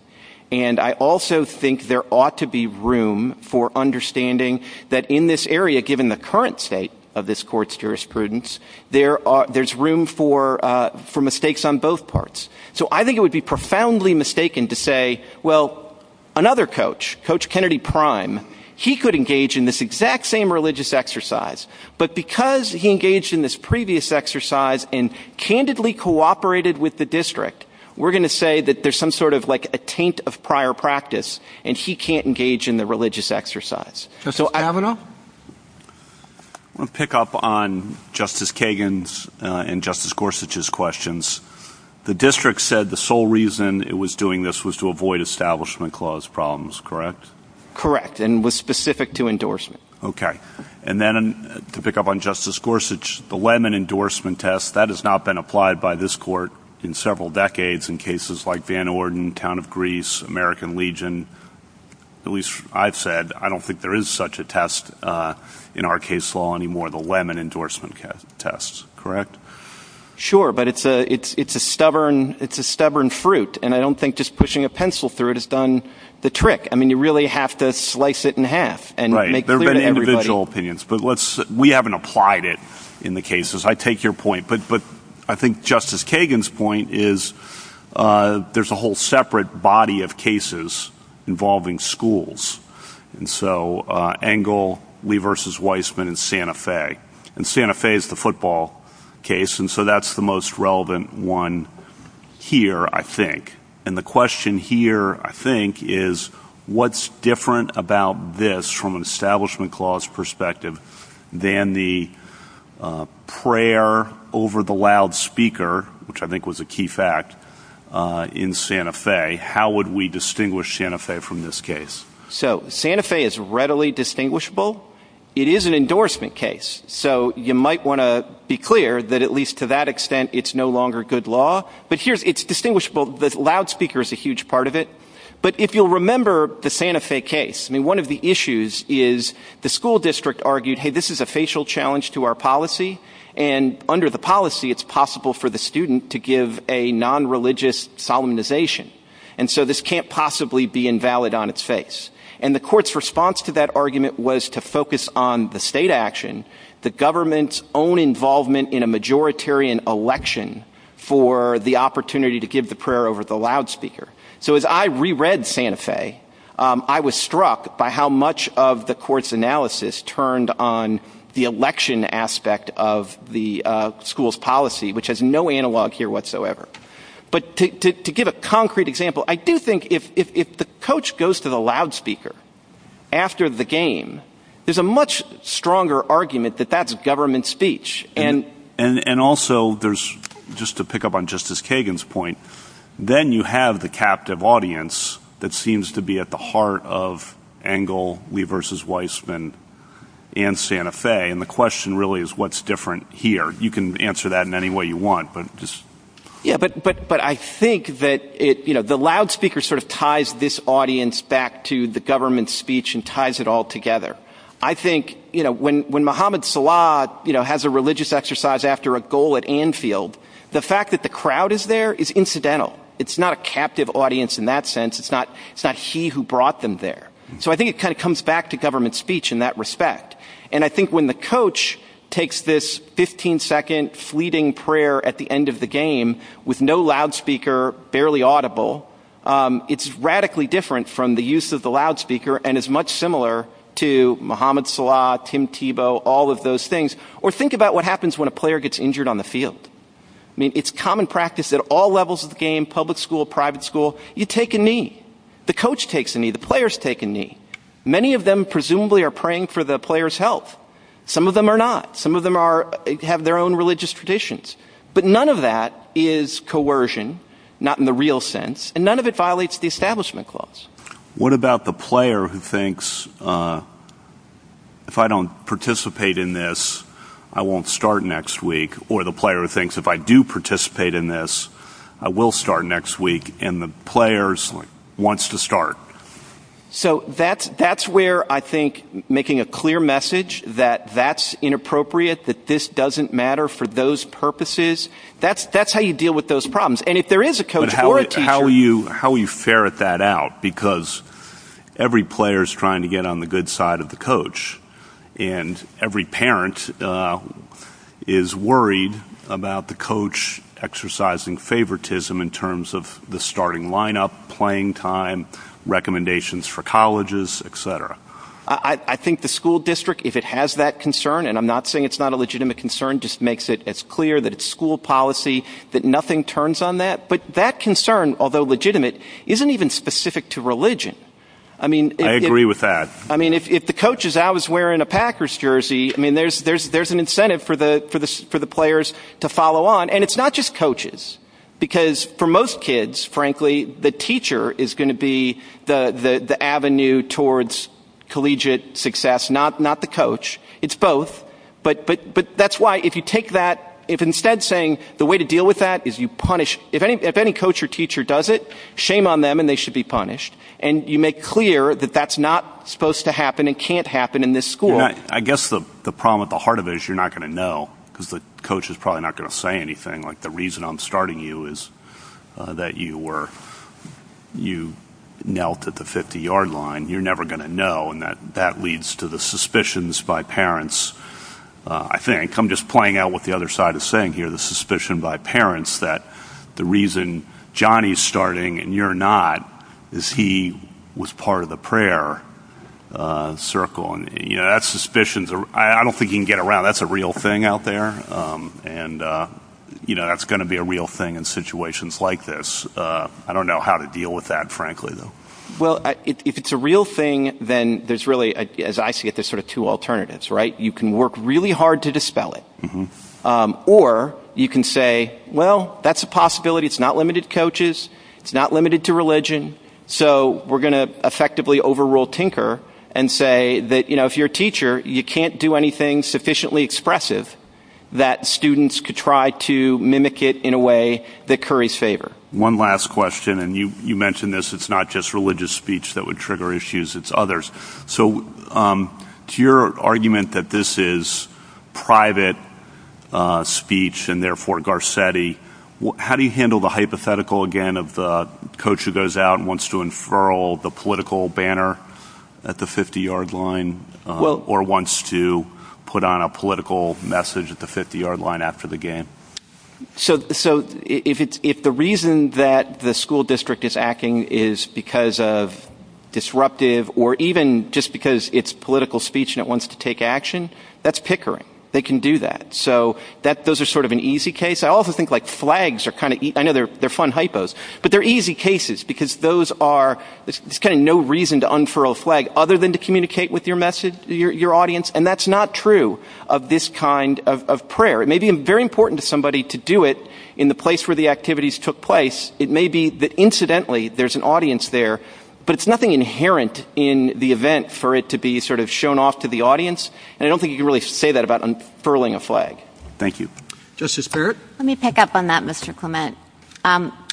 And I also think there ought to be room for understanding that in this area, given the current state of this court's jurisprudence, there are there's room for for mistakes on both parts. So I think it would be profoundly mistaken to say, well, another coach, Coach Kennedy Prime, he could engage in this exact same religious exercise. But because he engaged in this previous exercise and candidly cooperated with the district, we're going to say that there's some sort of like a taint of prior practice and he can't engage in the religious exercise. So I don't know. Pick up on Justice Kagan's and Justice Gorsuch's questions. The district said the sole reason it was doing this was to avoid establishment clause problems. Correct. Correct. And was specific to endorsement. OK. And then to pick up on Justice Gorsuch, the lemon endorsement test that has not been applied by this court in several decades in cases like Van Orden, Town of Greece, American Legion, at least I've said, I don't think there is such a test in our case law anymore. The lemon endorsement test. Correct. Sure. But it's a it's it's a stubborn it's a stubborn fruit. And I don't think just pushing a pencil through it has done the trick. I mean, you really have to slice it in half and make their individual opinions. But let's we haven't applied it in the cases. I take your point. But I think Justice Kagan's point is there's a whole separate body of cases involving schools. And so Angle Lee versus Weissman in Santa Fe and Santa Fe is the football case. And so that's the most relevant one here, I think. And the question here, I think, is what's different about this from an establishment clause perspective than the prayer over the loudspeaker, which I think was a key fact in Santa Fe? How would we distinguish Santa Fe from this case? So Santa Fe is readily distinguishable. It is an endorsement case. So you might want to be clear that at least to that extent, it's no longer good law. But here's it's distinguishable. The loudspeaker is a huge part of it. But if you'll remember the Santa Fe case, I mean, one of the issues is the school district argued, hey, this is a facial challenge to our policy. And under the policy, it's possible for the student to give a nonreligious solemnization. And so this can't possibly be invalid on its face. And the court's response to that argument was to focus on the state action, the government's own involvement in a majoritarian election for the opportunity to give the prayer over the loudspeaker. So as I reread Santa Fe, I was struck by how much of the court's analysis turned on the election aspect of the school's policy, which has no analog here whatsoever. But to give a concrete example, I do think if the coach goes to the loudspeaker after the game, there's a much stronger argument that that's government speech. And and also there's just to pick up on Justice Kagan's point, then you have the captive audience that seems to be at the heart of Engel, we versus Weissman and Santa Fe. And the question really is what's different here? You can answer that in any way you want. Yeah, but but but I think that it, you know, the loudspeaker sort of ties this audience back to the government speech and ties it all together. I think, you know, when when Mohammed Salah, you know, has a religious exercise after a goal at Anfield, the fact that the crowd is there is incidental. It's not a captive audience in that sense. It's not it's not he who brought them there. So I think it kind of comes back to government speech in that respect. And I think when the coach takes this 15 second fleeting prayer at the end of the game with no loudspeaker, barely audible, it's radically different from the use of the loudspeaker. And it's much similar to Mohammed Salah, Tim Tebow, all of those things. Or think about what happens when a player gets injured on the field. I mean, it's common practice at all levels of the game, public school, private school. You take a knee, the coach takes a knee, the players take a knee. Many of them presumably are praying for the player's health. Some of them are not. Some of them are have their own religious traditions. But none of that is coercion, not in the real sense. And none of it violates the establishment clause. What about the player who thinks if I don't participate in this, I won't start next week? Or the player thinks if I do participate in this, I will start next week. And the players wants to start. So that's that's where I think making a clear message that that's inappropriate, that this doesn't matter for those purposes. That's that's how you deal with those problems. How will you ferret that out? Because every player is trying to get on the good side of the coach. And every parent is worried about the coach exercising favoritism in terms of the starting lineup, playing time, recommendations for colleges, etc. I think the school district, if it has that concern, and I'm not saying it's not a legitimate concern, just makes it as clear that it's school policy, that nothing turns on that. But that concern, although legitimate, isn't even specific to religion. I mean, I agree with that. I mean, if the coach is always wearing a Packers jersey, I mean, there's there's there's an incentive for the for the for the players to follow on. And it's not just coaches, because for most kids, frankly, the teacher is going to be the avenue towards collegiate success, not not the coach. It's both. But but but that's why if you take that, if instead saying the way to deal with that is you punish if any coach or teacher does it, shame on them and they should be punished. And you make clear that that's not supposed to happen and can't happen in this school. I guess the problem at the heart of it is you're not going to know because the coach is probably not going to say anything. Like the reason I'm starting you is that you were you knelt at the 50 yard line. You're never going to know. And that that leads to the suspicions by parents. I think I'm just playing out what the other side is saying here, the suspicion by parents that the reason Johnny's starting and you're not is he was part of the prayer circle. And, you know, that's suspicions. I don't think you can get around. That's a real thing out there. And, you know, that's going to be a real thing in situations like this. I don't know how to deal with that, frankly, though. Well, if it's a real thing, then there's really as I see it, there's sort of two alternatives. Right. You can work really hard to dispel it or you can say, well, that's a possibility. It's not limited coaches. It's not limited to religion. So we're going to effectively overrule Tinker and say that, you know, if you're a teacher, you can't do anything sufficiently expressive that students could try to mimic it in a way that curry's favor. One last question. And you mentioned this. It's not just religious speech that would trigger issues. It's others. So to your argument that this is private speech and therefore Garcetti, how do you handle the hypothetical again of the coach who goes out and wants to infer all the political banner at the 50 yard line? Well, or wants to put on a political message at the 50 yard line after the game. So so if it's if the reason that the school district is acting is because of disruptive or even just because it's political speech and it wants to take action, that's Pickering. They can do that. So that those are sort of an easy case. I also think like flags are kind of another. They're fun hypos, but they're easy cases because those are kind of no reason to unfurl flag other than to communicate with your message, your audience. And that's not true of this kind of prayer. It may be very important to somebody to do it in the place where the activities took place. It may be that incidentally, there's an audience there, but it's nothing inherent in the event for it to be sort of shown off to the audience. And I don't think you really say that about unfurling a flag. Thank you, Justice. Let me pick up on that, Mr. Clement.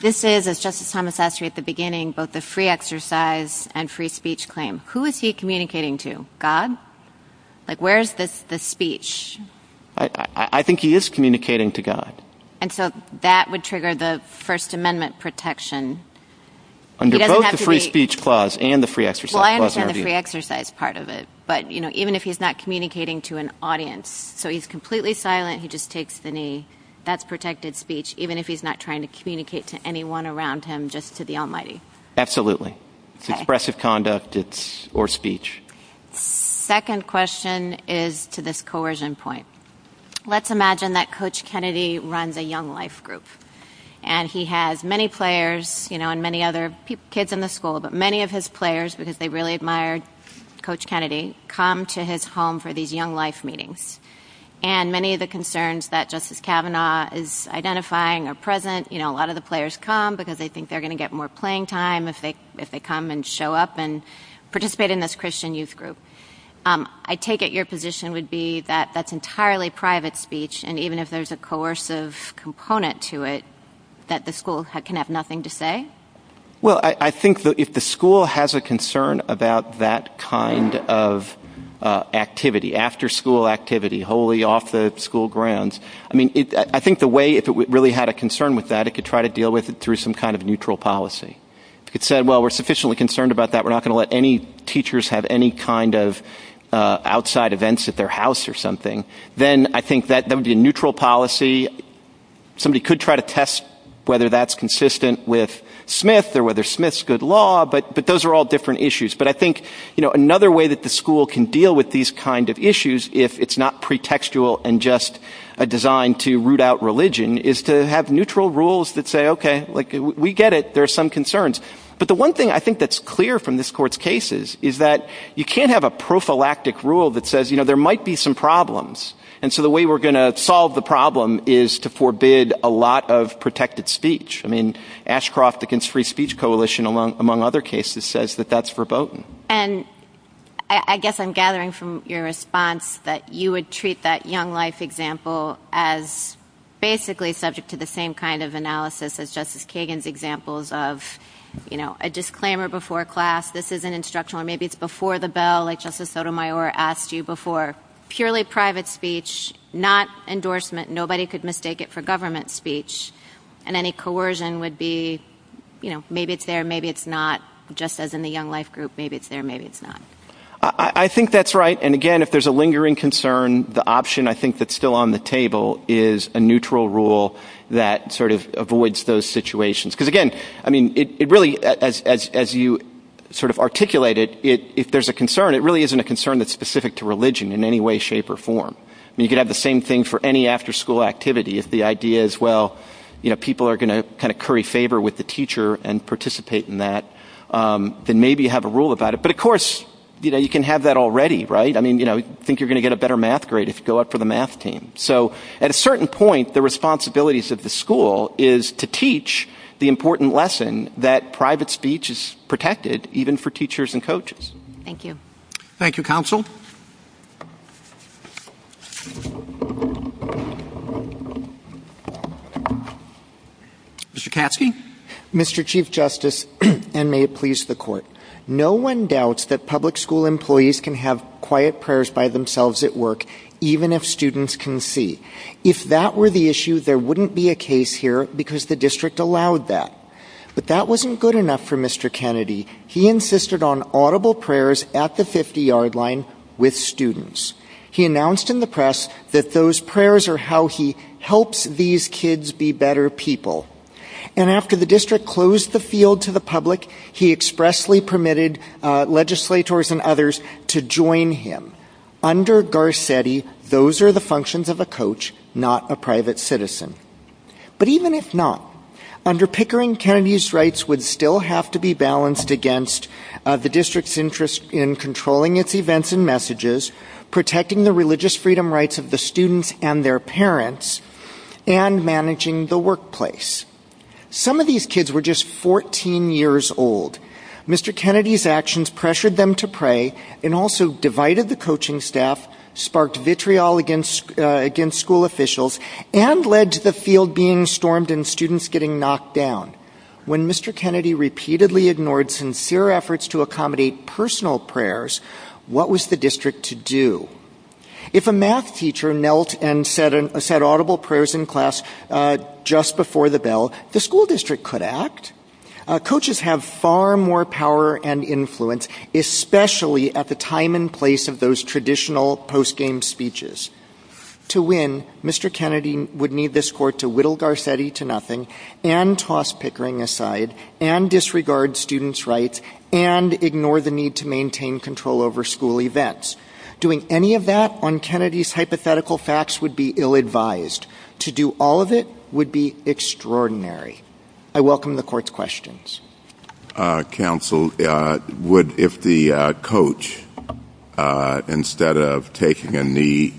This is, as Justice Thomas asked you at the beginning, both the free exercise and free speech claim. Who is he communicating to God? Like, where is this the speech? I think he is communicating to God. And so that would trigger the First Amendment protection under both the free speech clause and the free exercise. Well, I understand the free exercise part of it, but even if he's not communicating to an audience, so he's completely silent, he just takes the knee. That's protected speech, even if he's not trying to communicate to anyone around him, just to the Almighty. Absolutely. It's expressive conduct or speech. Second question is to this coercion point. Let's imagine that Coach Kennedy runs a Young Life group. And he has many players, you know, and many other kids in the school, but many of his players, because they really admired Coach Kennedy, come to his home for the Young Life meeting. And many of the concerns that Justice Kavanaugh is identifying are present. You know, a lot of the players come because they think they're going to get more playing time if they come and show up and participate in this Christian youth group. I take it your position would be that that's entirely private speech, and even if there's a coercive component to it, that the school can have nothing to say? Well, I think that if the school has a concern about that kind of activity, after school activity, wholly off the school grounds, I mean, I think the way, if it really had a concern with that, it could try to deal with it through some kind of neutral policy. It said, well, we're sufficiently concerned about that, we're not going to let any teachers have any kind of outside events at their house or something. Then I think that would be a neutral policy. Somebody could try to test whether that's consistent with Smith or whether Smith's good law, but those are all different issues. But I think, you know, another way that the school can deal with these kind of issues, if it's not pretextual and just designed to root out religion, is to have neutral rules that say, okay, we get it, there are some concerns. But the one thing I think that's clear from this court's cases is that you can't have a prophylactic rule that says, you know, there might be some problems. And so the way we're going to solve the problem is to forbid a lot of protected speech. I mean, Ashcroft against Free Speech Coalition, among other cases, says that that's verboten. And I guess I'm gathering from your response that you would treat that Young Life example as basically subject to the same kind of analysis as Justice Kagan's examples of, you know, a disclaimer before class, this is an instructional, maybe it's before the bell, like Justice Sotomayor asked you before, purely private speech, not endorsement, nobody could mistake it for government speech. And any coercion would be, you know, maybe it's there, maybe it's not, just as in the Young Life group, maybe it's there, maybe it's not. I think that's right. And again, if there's a lingering concern, the option I think that's still on the table is a neutral rule that sort of avoids those situations. Because again, I mean, it really, as you sort of articulate it, if there's a concern, it really isn't a concern that's specific to religion in any way, shape, or form. I mean, you can have the same thing for any after-school activity. If the idea is, well, you know, people are going to kind of curry favor with the teacher and participate in that, then maybe have a rule about it. But of course, you know, you can have that already, right? I mean, you know, I think you're going to get a better math grade if you go up for the math team. So at a certain point, the responsibilities of the school is to teach the important lesson that private speech is protected, even for teachers and coaches. Thank you. Thank you, Counsel. Mr. Caskey? Mr. Chief Justice, and may it please the Court, no one doubts that public school employees can have quiet prayers by themselves at work, even if students can see. If that were the issue, there wouldn't be a case here because the district allowed that. But that wasn't good enough for Mr. Kennedy. He insisted on audible prayers at the 50-yard line with students. He announced in the press that those prayers are how he helps these kids be better people. And after the district closed the field to the public, he expressly permitted legislators and others to join him. Under Garcetti, those are the functions of a coach, not a private citizen. But even if not, under Pickering, Kennedy's rights would still have to be balanced against the district's interest in controlling its events and messages, protecting the religious freedom rights of the students and their parents, and managing the workplace. Some of these kids were just 14 years old. Mr. Kennedy's actions pressured them to pray and also divided the coaching staff, sparked vitriol against school officials, and led to the field being stormed and students getting knocked down. When Mr. Kennedy repeatedly ignored sincere efforts to accommodate personal prayers, what was the district to do? If a math teacher knelt and said audible prayers in class just before the bell, the school district could act. Coaches have far more power and influence, especially at the time and place of those traditional post-game speeches. To win, Mr. Kennedy would need this court to whittle Garcetti to nothing, and toss Pickering aside, and disregard students' rights, and ignore the need to maintain control over school events. Doing any of that on Kennedy's hypothetical facts would be ill-advised. To do all of it would be extraordinary. I welcome the court's questions. Counsel, if the coach, instead of taking a knee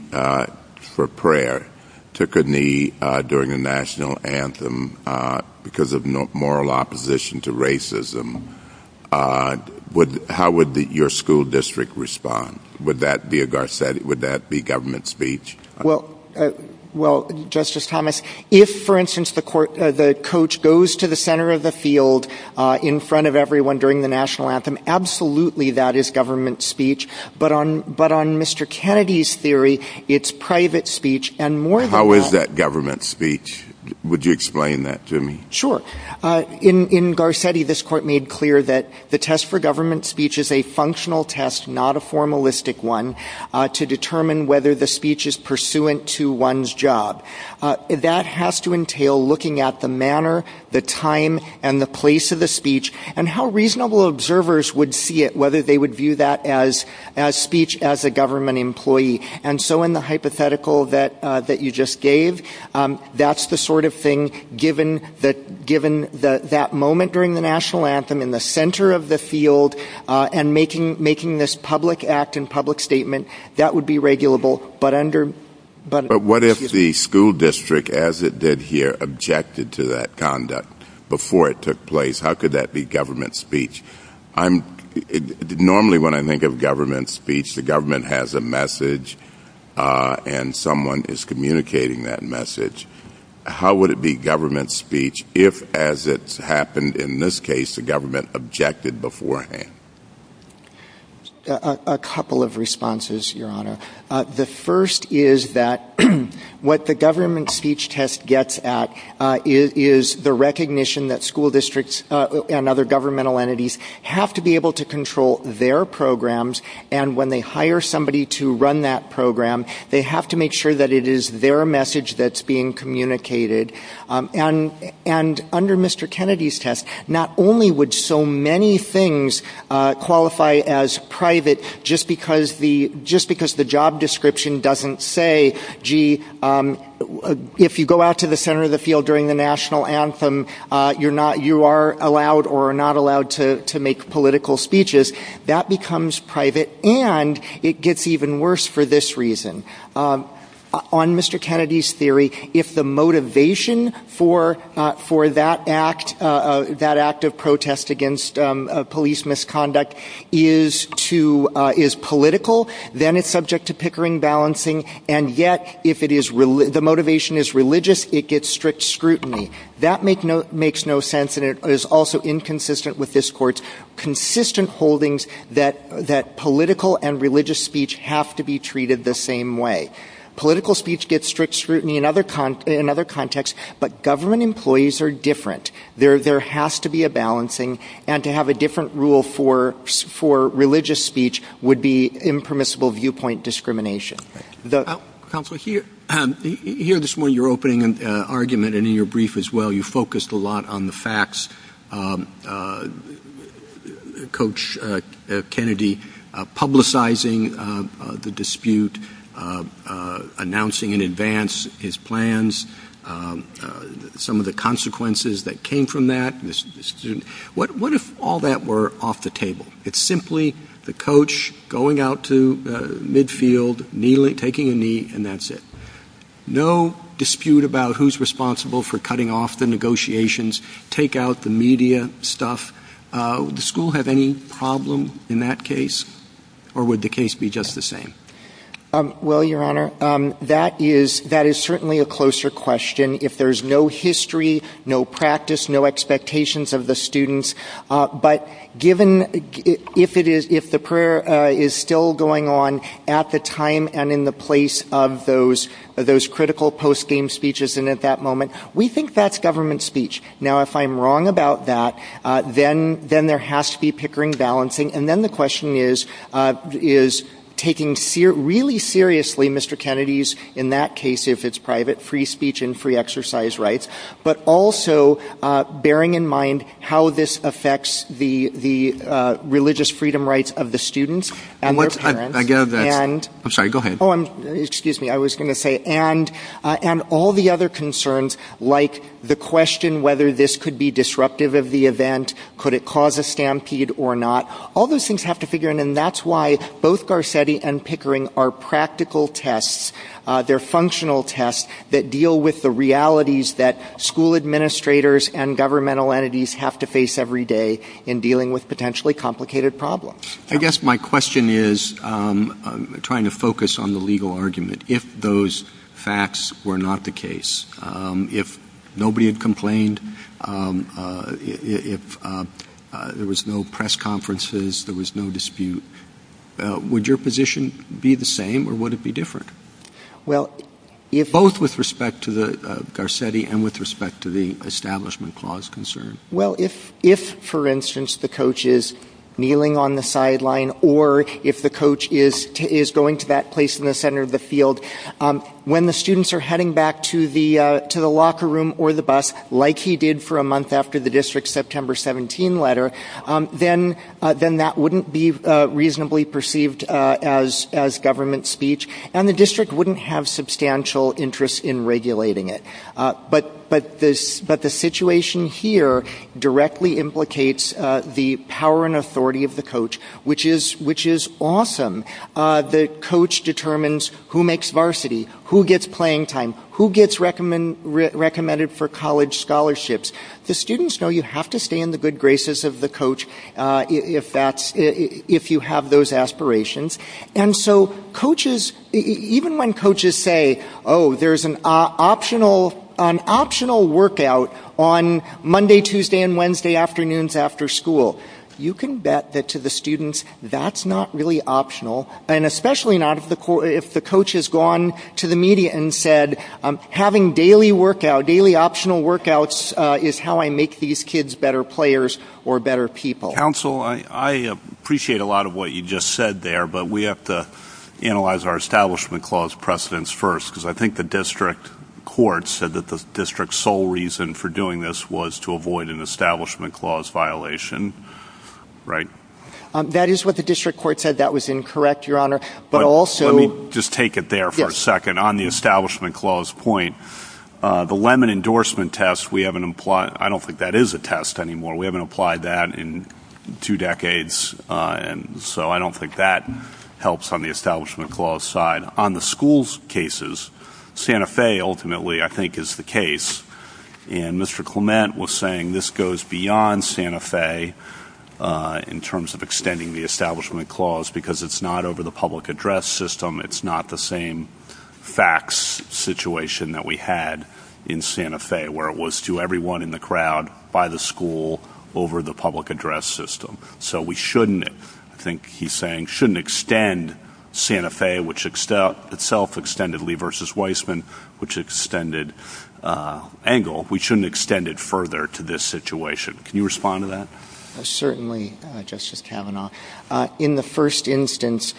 for prayer, took a knee during the national anthem because of moral opposition to racism, how would your school district respond? Would that be a Garcetti, would that be government speech? Well, Justice Thomas, if, for instance, the coach goes to the center of the field in front of everyone during the national anthem, absolutely that is government speech, but on Mr. Kennedy's theory, it's private speech. How is that government speech? Would you explain that to me? Sure. In Garcetti, this court made clear that the test for government speech is a functional test, not a formalistic one, to determine whether the speech is pursuant to one's job. That has to entail looking at the manner, the time, and the place of the speech, and how reasonable observers would see it, whether they would view that as speech as a government employee. And so in the hypothetical that you just gave, that's the sort of thing, given that moment during the national anthem, in the center of the field, and making this public act and public statement, that would be regulable. But what if the school district, as it did here, objected to that conduct before it took place? How could that be government speech? Normally when I think of government speech, the government has a message, and someone is communicating that message. How would it be government speech if, as it's happened in this case, the government objected beforehand? A couple of responses, Your Honor. The first is that what the government speech test gets at is the recognition that school districts and other governmental entities have to be able to control their programs, and when they hire somebody to run that program, they have to make sure that it is their message that's being communicated. And under Mr. Kennedy's test, not only would so many things qualify as private, just because the job description doesn't say, gee, if you go out to the center of the field during the national anthem, you are allowed or not allowed to make political speeches, that becomes private, and it gets even worse for this reason. On Mr. Kennedy's theory, if the motivation for that act of protest against police misconduct is political, then it's subject to pickering, balancing, and yet if the motivation is religious, it gets strict scrutiny. That makes no sense, and it is also inconsistent with this Court's consistent holdings that political and religious speech have to be treated the same way. Political speech gets strict scrutiny in other contexts, but government employees are different. There has to be a balancing, and to have a different rule for religious speech would be impermissible viewpoint discrimination. Counselor, here this morning in your opening argument and in your brief as well, you focused a lot on the facts. Coach Kennedy publicizing the dispute, announcing in advance his plans, some of the consequences that came from that. What if all that were off the table? It's simply the coach going out to midfield, taking a knee, and that's it. No dispute about who's responsible for cutting off the negotiations, take out the media stuff. Would the school have any problem in that case, or would the case be just the same? Well, Your Honor, that is certainly a closer question. If there's no history, no practice, no expectations of the students, but if the prayer is still going on at the time and in the place of those critical post-game speeches and at that moment, we think that's government speech. Now, if I'm wrong about that, then there has to be pickering, balancing, and then the question is taking really seriously Mr. Kennedy's, in that case if it's private, free speech and free exercise rights, but also bearing in mind how this affects the religious freedom rights of the students. And all the other concerns, like the question whether this could be disruptive of the event, could it cause a stampede or not, all those things have to figure out, and that's why both Garcetti and Pickering are practical tests. They're functional tests that deal with the realities that school administrators and governmental entities have to face every day in dealing with potentially complicated problems. I guess my question is, trying to focus on the legal argument, if those facts were not the case, if nobody had complained, if there was no press conferences, there was no dispute, would your position be the same or would it be different? Both with respect to Garcetti and with respect to the Establishment Clause concern. Well, if, for instance, the coach is kneeling on the sideline or if the coach is going to that place in the center of the field, when the students are heading back to the locker room or the bus, like he did for a month after the district's September 17 letter, then that wouldn't be reasonably perceived as government speech and the district wouldn't have substantial interest in regulating it. But the situation here directly implicates the power and authority of the coach, which is awesome. The coach determines who makes varsity, who gets playing time, who gets recommended for college scholarships. The students know you have to stay in the good graces of the coach if you have those aspirations. And so coaches, even when coaches say, oh, there's an optional workout on Monday, Tuesday, and Wednesday afternoons after school, you can bet that to the students that's not really optional, and especially not if the coach has gone to the media and said, having daily optional workouts is how I make these kids better players or better people. Counsel, I appreciate a lot of what you just said there, but we have to analyze our Establishment Clause precedents first because I think the district court said that the district's sole reason for doing this was to avoid an Establishment Clause violation, right? That is what the district court said. That was incorrect, Your Honor. Let me just take it there for a second. On the Establishment Clause point, the Lemon endorsement test, I don't think that is a test anymore. We haven't applied that in two decades, and so I don't think that helps on the Establishment Clause side. On the schools cases, Santa Fe ultimately, I think, is the case, and Mr. Clement was saying this goes beyond Santa Fe in terms of extending the Establishment Clause because it's not over the public address system. It's not the same fax situation that we had in Santa Fe, where it was to everyone in the crowd by the school over the public address system. So we shouldn't, I think he's saying, shouldn't extend Santa Fe, which itself extended Lee v. Weissman, which extended Engel. We shouldn't extend it further to this situation. Can you respond to that? Certainly, Justice Kavanaugh. In the first instance,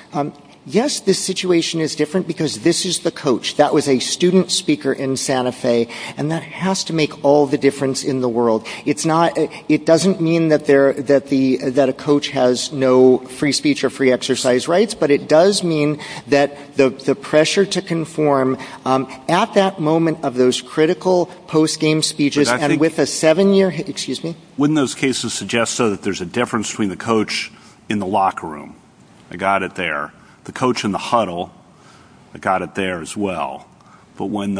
yes, this situation is different because this is the coach. That was a student speaker in Santa Fe, and that has to make all the difference in the world. It doesn't mean that a coach has no free speech or free exercise rights, but it does mean that the pressure to conform at that moment of those critical post-game speeches Wouldn't those cases suggest that there's a difference between the coach in the locker room? I got it there. The coach in the huddle, I got it there as well. But when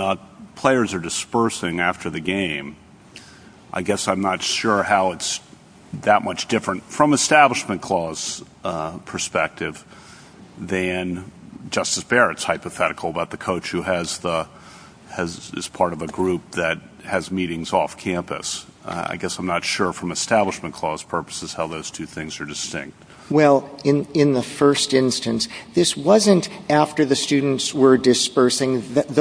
players are dispersing after the game, I guess I'm not sure how it's that much different from Establishment Clause perspective than Justice Barrett's hypothetical about the coach who is part of a group that has meetings off campus. I guess I'm not sure from Establishment Clause purposes how those two things are distinct. Well, in the first instance, this wasn't after the students were dispersing. That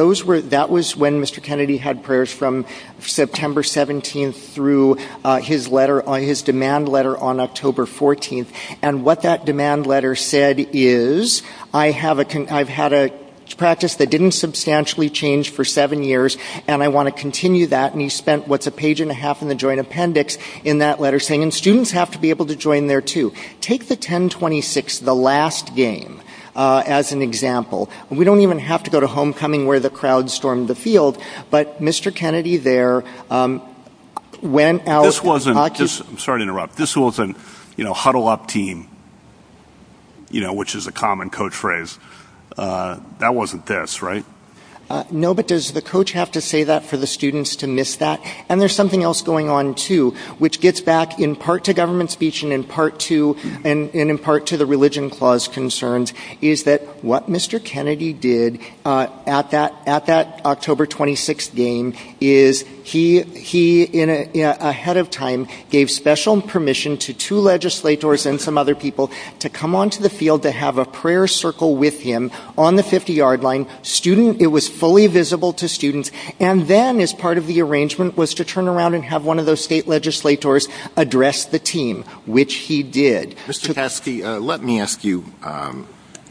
was when Mr. Kennedy had prayers from September 17th through his demand letter on October 14th. And what that demand letter said is, I've had a practice that didn't substantially change for seven years, and I want to continue that. And he spent what's a page and a half in the joint appendix in that letter saying, and students have to be able to join there too. Take the 10-26, the last game, as an example. We don't even have to go to homecoming where the crowd stormed the field, but Mr. Kennedy there went out. Sorry to interrupt. This wasn't huddle up team, which is a common coach phrase. That wasn't this, right? No, but does the coach have to say that for the students to miss that? And there's something else going on too, which gets back in part to government speech and in part to the Religion Clause concerns, is he, ahead of time, gave special permission to two legislators and some other people to come onto the field to have a prayer circle with him on the 50-yard line. It was fully visible to students, and then as part of the arrangement was to turn around and have one of those state legislators address the team, which he did. Let me ask you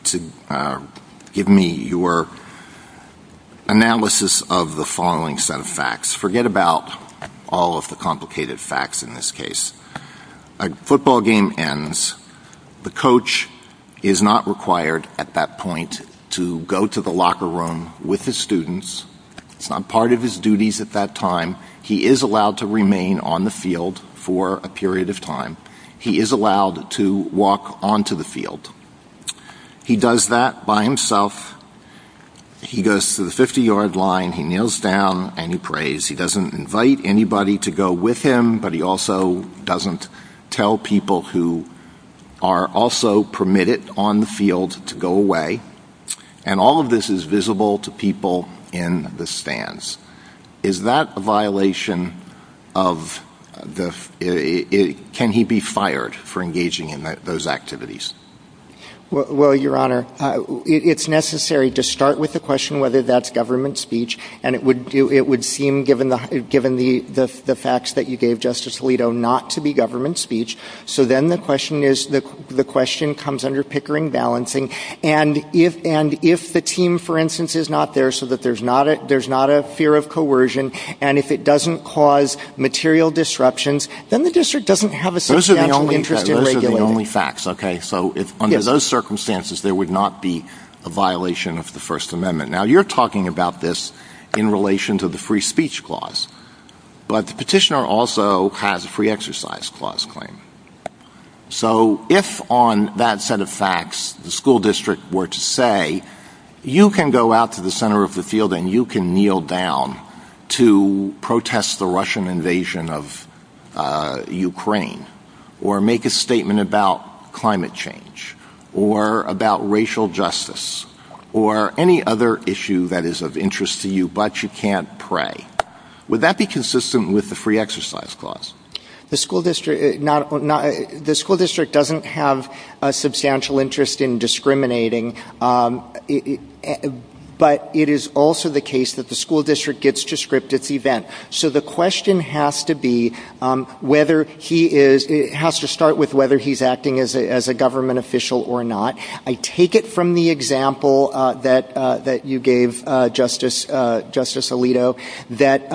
to give me your analysis of the following set of facts. Forget about all of the complicated facts in this case. A football game ends. The coach is not required at that point to go to the locker room with the students. It's not part of his duties at that time. He is allowed to remain on the field for a period of time. He is allowed to walk onto the field. He does that by himself. He goes to the 50-yard line, he kneels down, and he prays. He doesn't invite anybody to go with him, but he also doesn't tell people who are also permitted on the field to go away. And all of this is visible to people in the stands. Is that a violation of the ---- Can he be fired for engaging in those activities? Well, Your Honor, it's necessary to start with the question whether that's government speech, and it would seem, given the facts that you gave Justice Alito, not to be government speech. So then the question comes under Pickering balancing. And if the team, for instance, is not there so that there's not a fear of coercion, and if it doesn't cause material disruptions, then the district doesn't have a substantial interest in regulating it. Those are the only facts, okay? So under those circumstances, there would not be a violation of the First Amendment. Now, you're talking about this in relation to the free speech clause, but the petitioner also has a free exercise clause claim. So if on that set of facts the school district were to say, you can go out to the center of the field and you can kneel down to protest the Russian invasion of Ukraine, or make a statement about climate change, or about racial justice, or any other issue that is of interest to you, but you can't pray, would that be consistent with the free exercise clause? The school district doesn't have a substantial interest in discriminating, but it is also the case that the school district gets to script its event. So the question has to start with whether he's acting as a government official or not. I take it from the example that you gave, Justice Alito, that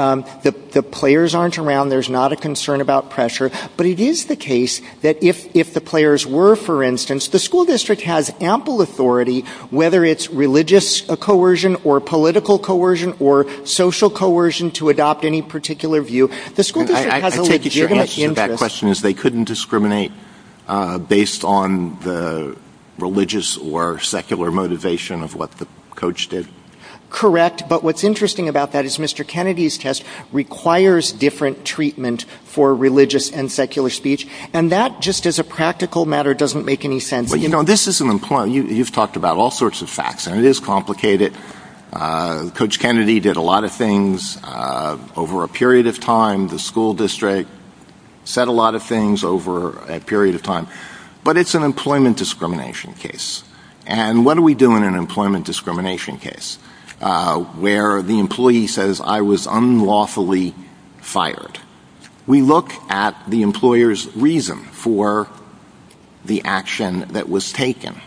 the players aren't around, there's not a concern about pressure, but it is the case that if the players were, for instance, the school district has ample authority, whether it's religious coercion, or political coercion, or social coercion to adopt any particular view. I take it your answer to that question is they couldn't discriminate based on the religious or secular motivation of what the coach did. Correct, but what's interesting about that is Mr. Kennedy's test requires different treatment for religious and secular speech, and that just as a practical matter doesn't make any sense. You know, this is an employment, you've talked about all sorts of facts, and it is complicated. Coach Kennedy did a lot of things over a period of time, the school district said a lot of things over a period of time, but it's an employment discrimination case. And what do we do in an employment discrimination case where the employee says, I was unlawfully fired? We look at the employer's reason for the action that was taken,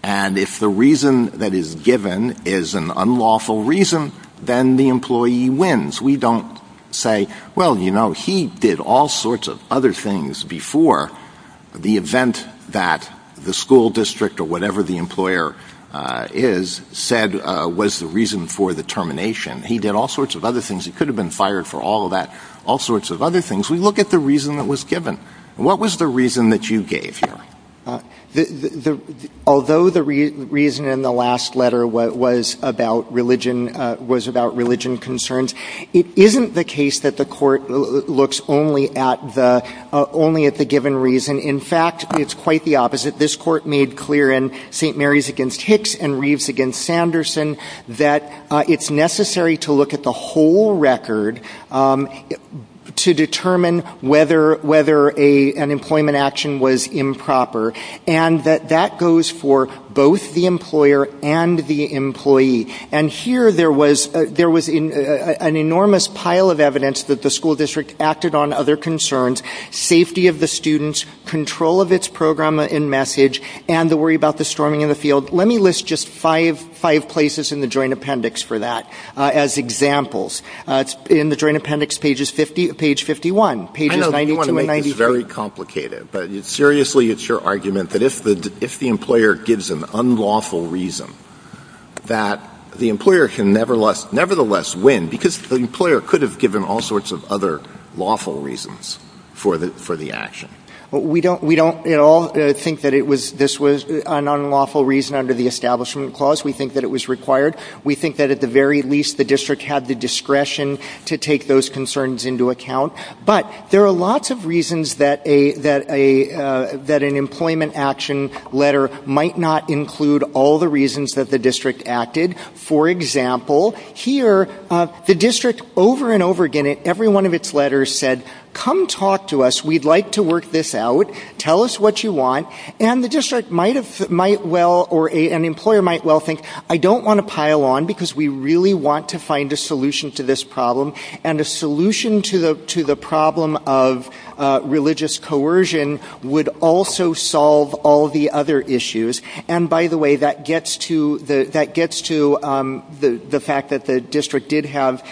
and if the reason that is given is an unlawful reason, then the employee wins. We don't say, well, you know, he did all sorts of other things before the event that the school district or whatever the employer is, said was the reason for the termination. He did all sorts of other things, he could have been fired for all of that, all sorts of other things. We look at the reason that was given. What was the reason that you gave here? Although the reason in the last letter was about religion concerns, it isn't the case that the court looks only at the given reason. In fact, it's quite the opposite. This court made clear in St. Mary's v. Hicks and Reeves v. Sanderson that it's necessary to look at the whole record to determine whether an employment action was improper, And here there was an enormous pile of evidence that the school district acted on other concerns, safety of the students, control of its program and message, and the worry about the storming of the field. Let me list just five places in the Joint Appendix for that as examples. In the Joint Appendix, page 51. I know you want to make this very complicated, but seriously, it's your argument that if the employer gives an unlawful reason that the employer can nevertheless win because the employer could have given all sorts of other lawful reasons for the action. We don't at all think that this was an unlawful reason under the Establishment Clause. We think that it was required. We think that at the very least the district had the discretion to take those concerns into account. But there are lots of reasons that an employment action letter might not include all the reasons that the district acted. For example, here the district over and over again in every one of its letters said, Come talk to us. We'd like to work this out. Tell us what you want. And the district might well or an employer might well think, I don't want to pile on because we really want to find a solution to this problem. And a solution to the problem of religious coercion would also solve all the other issues. And by the way, that gets to the fact that the district did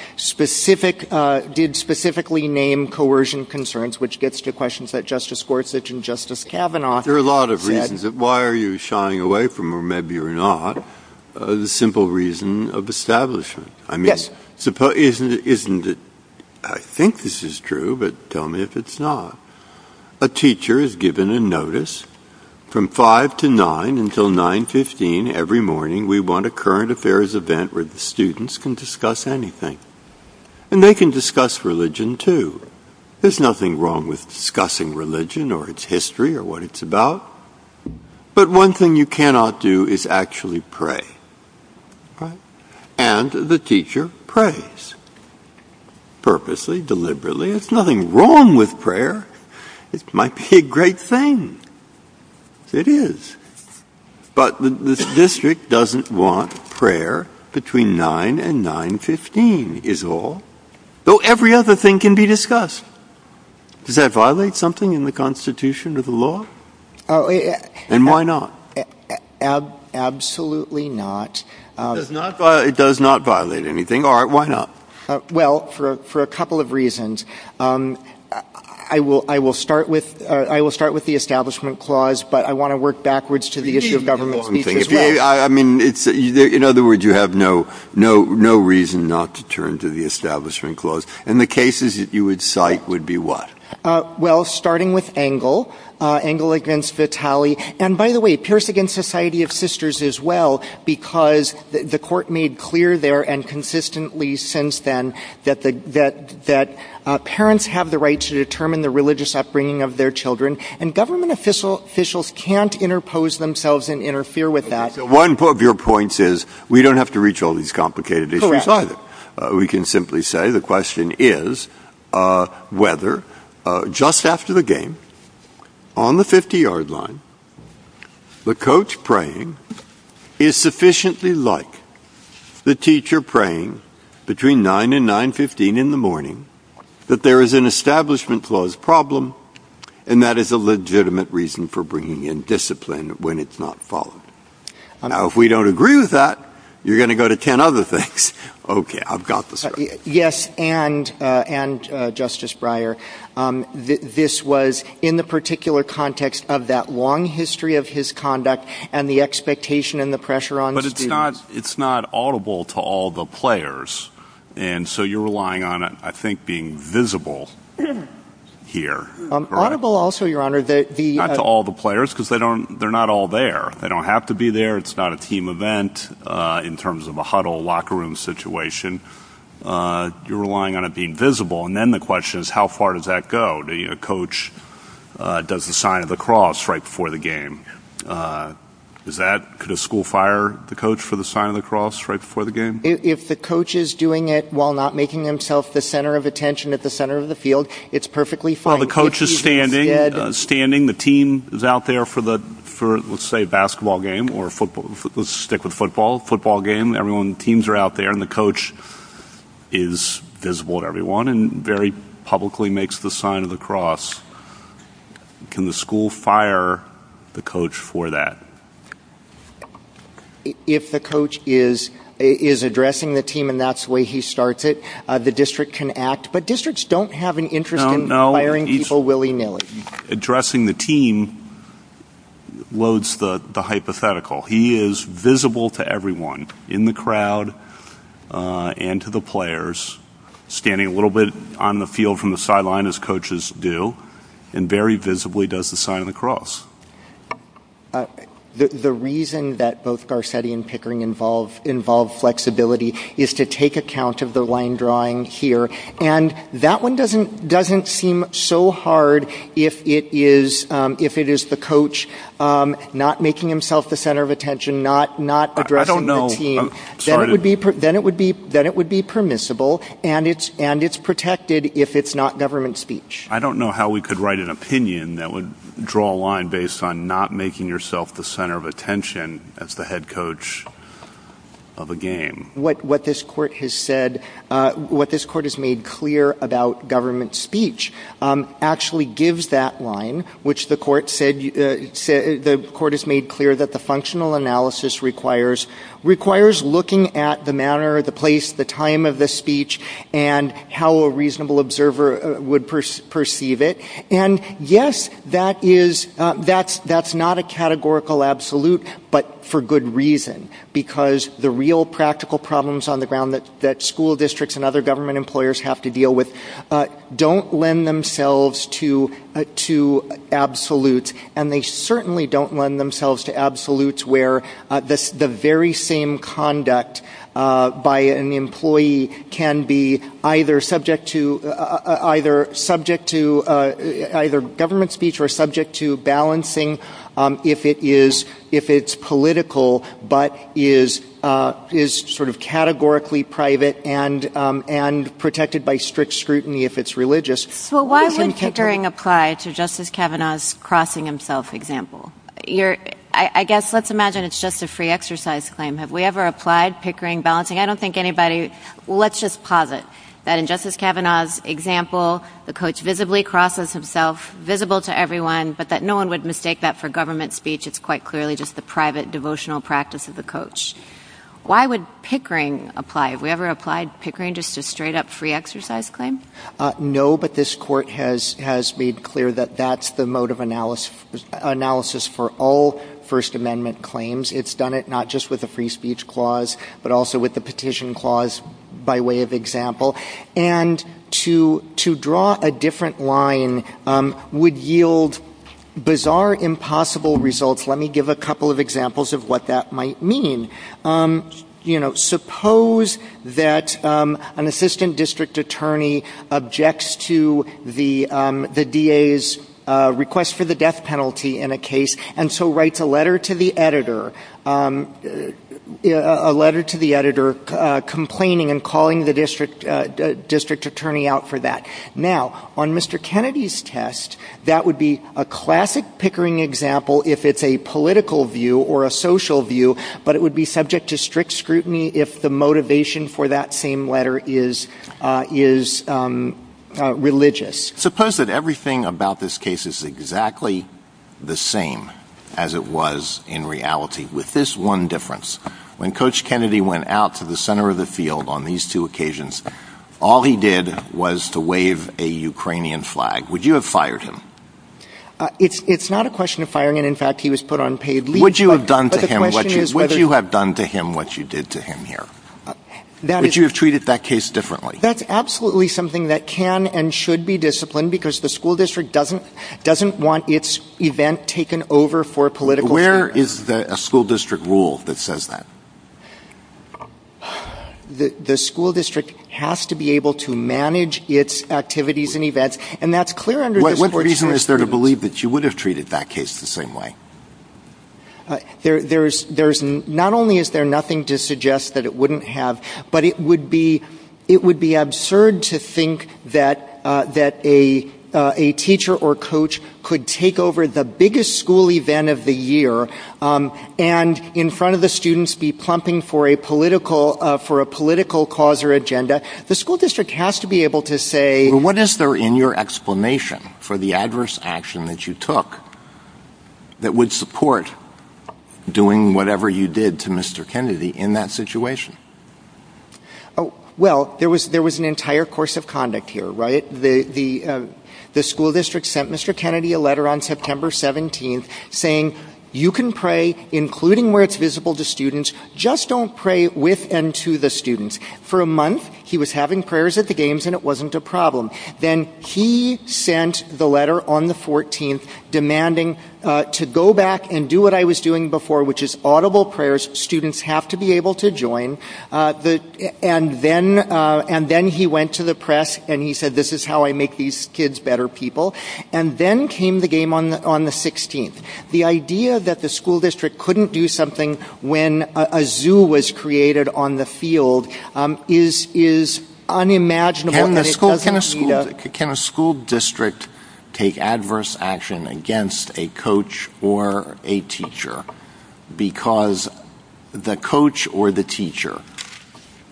specifically name coercion concerns, which gets to questions that Justice Gorsuch and Justice Kavanaugh said. There are a lot of reasons. Why are you shying away from, or maybe you're not, the simple reason of establishment? I think this is true, but tell me if it's not. A teacher is given a notice from 5 to 9 until 9.15 every morning. We want a current affairs event where the students can discuss anything. And they can discuss religion too. There's nothing wrong with discussing religion or its history or what it's about. But one thing you cannot do is actually pray. And the teacher prays, purposely, deliberately. There's nothing wrong with prayer. It might be a great thing. It is. But the district doesn't want prayer between 9 and 9.15 is all. Though every other thing can be discussed. Does that violate something in the constitution of the law? And why not? Absolutely not. It does not violate anything. All right, why not? Well, for a couple of reasons. I will start with the establishment clause, but I want to work backwards to the issue of government. I mean, in other words, you have no reason not to turn to the establishment clause. And the cases that you would cite would be what? Well, starting with Engel, Engel against Vitale. And, by the way, Pierce against Society of Sisters as well, because the court made clear there and consistently since then that parents have the right to determine the religious upbringing of their children. And government officials can't interpose themselves and interfere with that. One of your points is we don't have to reach all these complicated issues. We can simply say the question is whether, just after the game, on the 50-yard line, the coach praying is sufficiently like the teacher praying between 9 and 9.15 in the morning that there is an establishment clause problem and that is a legitimate reason for bringing in discipline when it's not followed. Now, if we don't agree with that, you're going to go to 10 other things. Okay, I've got this. Yes, and, Justice Breyer, this was in the particular context of that long history of his conduct and the expectation and the pressure on the students. But it's not audible to all the players, and so you're relying on it, I think, being visible here. Audible also, Your Honor. Not to all the players because they're not all there. They don't have to be there. It's not a team event in terms of a huddle locker room situation. You're relying on it being visible. And then the question is how far does that go? The coach does the sign of the cross right before the game. Could a school fire the coach for the sign of the cross right before the game? If the coach is doing it while not making himself the center of attention at the center of the field, it's perfectly fine. While the coach is standing, the team is out there for, let's say, a basketball game or football. Let's stick with football. Football game. Teams are out there, and the coach is visible to everyone and very publicly makes the sign of the cross. Can the school fire the coach for that? If the coach is addressing the team and that's the way he starts it, the district can act. But districts don't have an interest in firing people willy-nilly. Addressing the team loads the hypothetical. He is visible to everyone in the crowd and to the players, standing a little bit on the field from the sideline, as coaches do, and very visibly does the sign of the cross. The reason that both Garcetti and Pickering involve flexibility is to take account of the line drawing here. That one doesn't seem so hard if it is the coach not making himself the center of attention, not addressing the team. Then it would be permissible, and it's protected if it's not government speech. I don't know how we could write an opinion that would draw a line based on not making yourself the center of attention as the head coach of a game. What this court has said, what this court has made clear about government speech actually gives that line, which the court has made clear that the functional analysis requires, requires looking at the manner, the place, the time of the speech and how a reasonable observer would perceive it. Yes, that's not a categorical absolute, but for good reason, because the real practical problems on the ground that school districts and other government employers have to deal with don't lend themselves to absolutes, and they certainly don't lend themselves to absolutes where the very same conduct by an employee can be either subject to government speech or subject to balancing if it's political, but is sort of categorically private and protected by strict scrutiny if it's religious. Why doesn't Pickering apply to Justice Kavanaugh's crossing himself example? I guess let's imagine it's just a free exercise claim. Have we ever applied Pickering balancing? I don't think anybody, let's just posit that in Justice Kavanaugh's example, the coach visibly crosses himself, visible to everyone, but that no one would mistake that for government speech. It's quite clearly just the private devotional practice of the coach. Why would Pickering apply? Have we ever applied Pickering just to straight-up free exercise claims? No, but this court has made clear that that's the mode of analysis for all First Amendment claims. It's done it not just with the free speech clause, but also with the petition clause by way of example. And to draw a different line would yield bizarre, impossible results. Let me give a couple of examples of what that might mean. You know, suppose that an assistant district attorney objects to the DA's request for the death penalty in a case and so writes a letter to the editor complaining and calling the district attorney out for that. Now, on Mr. Kennedy's test, that would be a classic Pickering example if it's a political view or a social view, but it would be subject to strict scrutiny if the motivation for that same letter is religious. Suppose that everything about this case is exactly the same as it was in reality, with this one difference. When Coach Kennedy went out to the center of the field on these two occasions, all he did was to wave a Ukrainian flag. Would you have fired him? It's not a question of firing him. In fact, he was put on paid leave. Would you have done to him what you did to him here? Would you have treated that case differently? That's absolutely something that can and should be disciplined, because the school district doesn't want its event taken over for political purposes. Where is the school district rule that says that? The school district has to be able to manage its activities and events, and that's clear under the Supreme Court. What reason is there to believe that you would have treated that case the same way? Not only is there nothing to suggest that it wouldn't have, but it would be absurd to think that a teacher or coach could take over the biggest school event of the year and in front of the students be plumping for a political cause or agenda. The school district has to be able to say... What is there in your explanation for the adverse action that you took that would support doing whatever you did to Mr. Kennedy in that situation? Well, there was an entire course of conduct here, right? The school district sent Mr. Kennedy a letter on September 17th saying, you can pray, including where it's visible to students, just don't pray with and to the students. For a month, he was having prayers at the games and it wasn't a problem. Then he sent the letter on the 14th demanding to go back and do what I was doing before, which is audible prayers. Students have to be able to join. And then he went to the press and he said, this is how I make these kids better people. And then came the game on the 16th. The idea that the school district couldn't do something when a zoo was created on the field is unimaginable. Can a school district take adverse action against a coach or a teacher? Because the coach or the teacher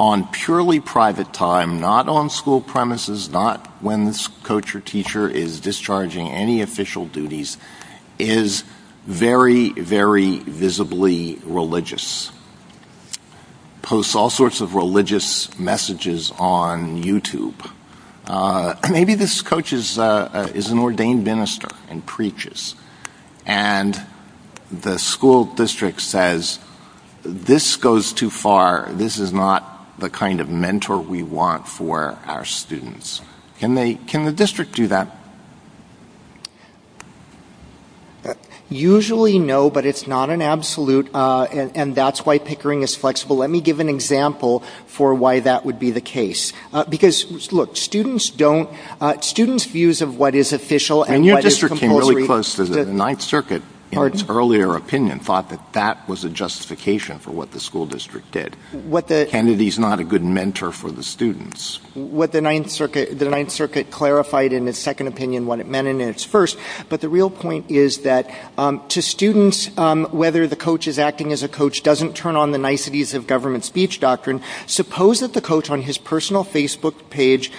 on purely private time, not on school premises, not when coach or teacher is discharging any official duties, is very, very visibly religious. Posts all sorts of religious messages on YouTube. Maybe this coach is an ordained minister and preaches. And the school district says, this goes too far. This is not the kind of mentor we want for our students. Can the district do that? Usually no, but it's not an absolute. And that's why Pickering is flexible. Let me give an example for why that would be the case. Look, students views of what is official and what is compulsory. And your district came really close to the Ninth Circuit in its earlier opinion, thought that that was a justification for what the school district did. Kennedy's not a good mentor for the students. What the Ninth Circuit clarified in its second opinion, what it meant in its first. But the real point is that to students, whether the coach is acting as a coach doesn't turn on the niceties of government speech doctrine. Suppose that the coach on his personal Facebook page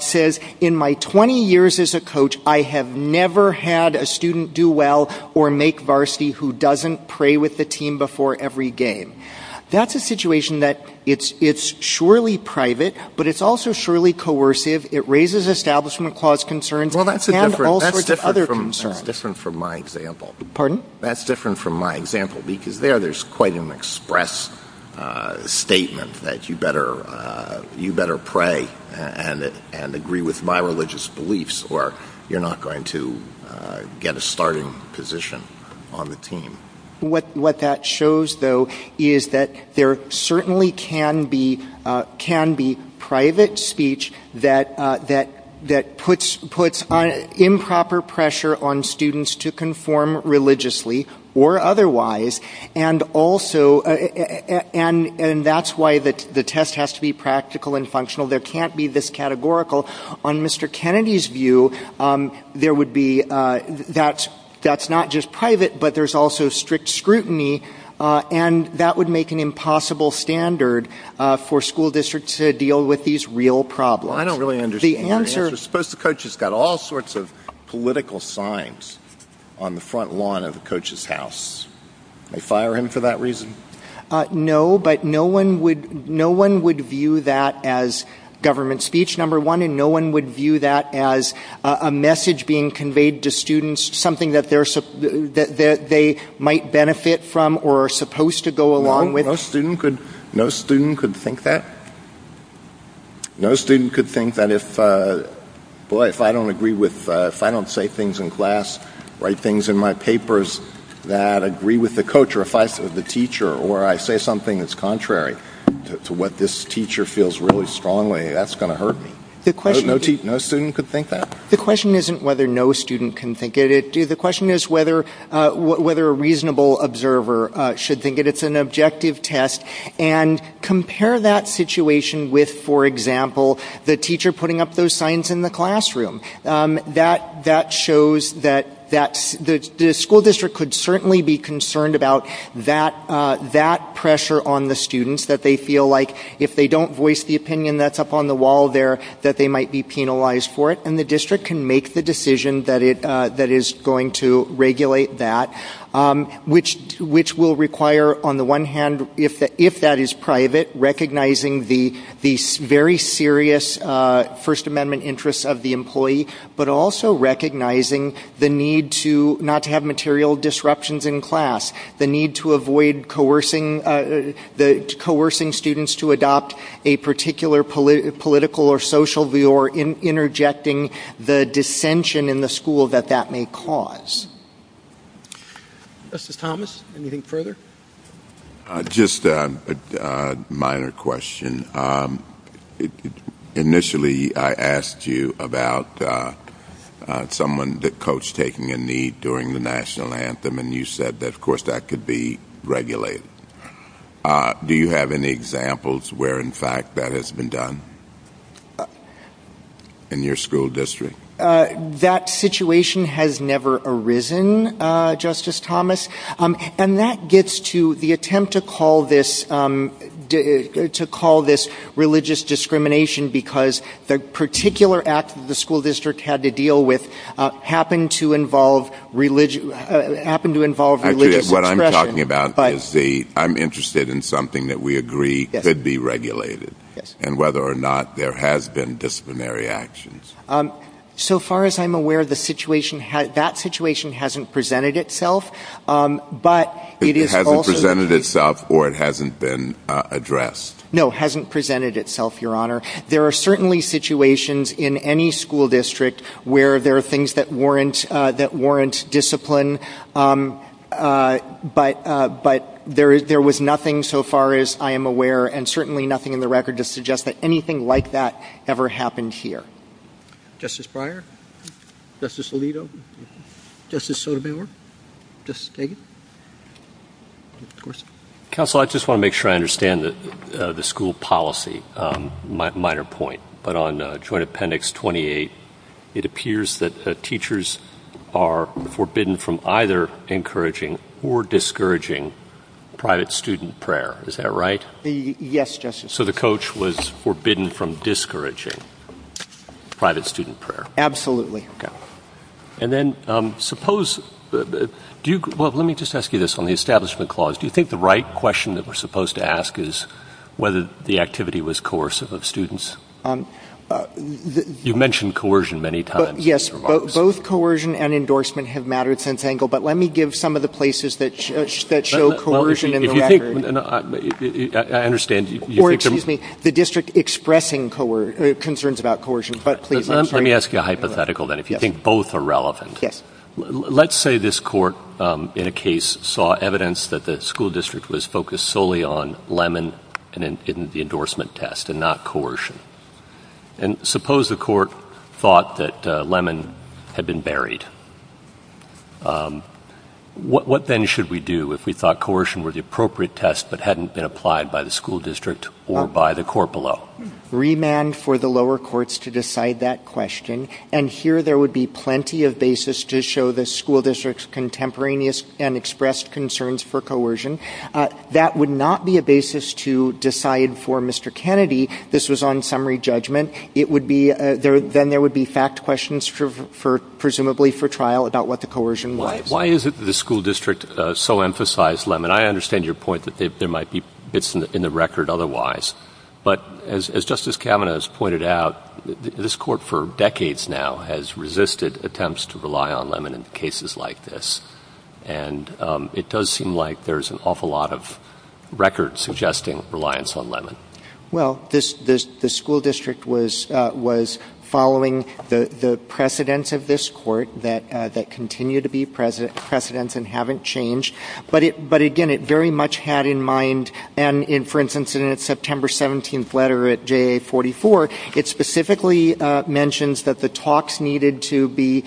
says, in my 20 years as a coach, I have never had a student do well or make varsity who doesn't pray with the team before every game. That's a situation that it's surely private, but it's also surely coercive. It raises establishment clause concerns and all sorts of other concerns. That's different from my example. There's quite an express statement that you better pray and agree with my religious beliefs or you're not going to get a starting position on the team. What that shows, though, is that there certainly can be private speech that puts improper pressure on students to conform religiously or otherwise, and that's why the test has to be practical and functional. There can't be this categorical. On Mr. Kennedy's view, that's not just private, but there's also strict scrutiny, and that would make an impossible standard for school districts to deal with these real problems. I don't really understand your answer. Suppose the coach has got all sorts of political signs on the front lawn of the coach's house. They fire him for that reason? No, but no one would view that as government speech, number one, and no one would view that as a message being conveyed to students, that they might benefit from or are supposed to go along with. No student could think that? No student could think that if I don't say things in class, write things in my papers that agree with the coach or the teacher, or I say something that's contrary to what this teacher feels really strongly, that's going to hurt me? No student could think that? The question isn't whether no student can think it. The question is whether a reasonable observer should think it. It's an objective test, and compare that situation with, for example, the teacher putting up those signs in the classroom. That shows that the school district could certainly be concerned about that pressure on the students, that they feel like if they don't voice the opinion that's up on the wall there, that they might be penalized for it, and the district can make the decision that is going to regulate that, which will require, on the one hand, if that is private, recognizing the very serious First Amendment interests of the employee, but also recognizing the need not to have material disruptions in class, the need to avoid coercing students to adopt a particular political or social view, or interjecting the dissension in the school that that may cause. Mr. Thomas, anything further? Just a minor question. Initially, I asked you about someone, the coach, taking a knee during the National Anthem, and you said that, of course, that could be regulated. Do you have any examples where, in fact, that has been done in your school district? That situation has never arisen, Justice Thomas, and that gets to the attempt to call this religious discrimination because the particular act the school district had to deal with happened to involve religious discrimination. Actually, what I'm talking about is I'm interested in something that we agree could be regulated and whether or not there has been disciplinary actions. So far as I'm aware, that situation hasn't presented itself, but it is also— It hasn't presented itself or it hasn't been addressed. No, it hasn't presented itself, Your Honor. There are certainly situations in any school district where there are things that warrant discipline, but there was nothing, so far as I am aware, and certainly nothing in the record to suggest that anything like that ever happened here. Justice Breyer? Justice Alito? Justice Sotomayor? Justice Dagan? Counsel, I just want to make sure I understand the school policy. Minor point, but on Joint Appendix 28, it appears that teachers are forbidden from either encouraging or discouraging private student prayer. Is that right? Yes, Justice. So the coach was forbidden from discouraging private student prayer. Absolutely. And then suppose—well, let me just ask you this on the Establishment Clause. Do you think the right question that we're supposed to ask is whether the activity was coercive of students? You mentioned coercion many times. Yes, both coercion and endorsement have mattered since Engel, but let me give some of the places that show coercion in the record. I understand you— Or, excuse me, the district expressing concerns about coercion, but please— Let me ask you a hypothetical, then, if you think both are relevant. Yes. Let's say this court in a case saw evidence that the school district was focused solely on Lemon and the endorsement test and not coercion. And suppose the court thought that Lemon had been buried. What then should we do if we thought coercion were the appropriate test that hadn't been applied by the school district or by the court below? Remand for the lower courts to decide that question. And here there would be plenty of basis to show the school district's contemporaneous and expressed concerns for coercion. That would not be a basis to decide for Mr. Kennedy this was on summary judgment. It would be—then there would be fact questions, presumably for trial, about what the coercion was. Why is it that the school district so emphasized Lemon? I understand your point that there might be bits in the record otherwise. But as Justice Kavanaugh has pointed out, this court for decades now has resisted attempts to rely on Lemon in cases like this. And it does seem like there's an awful lot of records suggesting reliance on Lemon. Well, the school district was following the precedents of this court that continue to be precedents and haven't changed. But again, it very much had in mind—and for instance, in its September 17th letter at JA44, it specifically mentions that the talks needed to be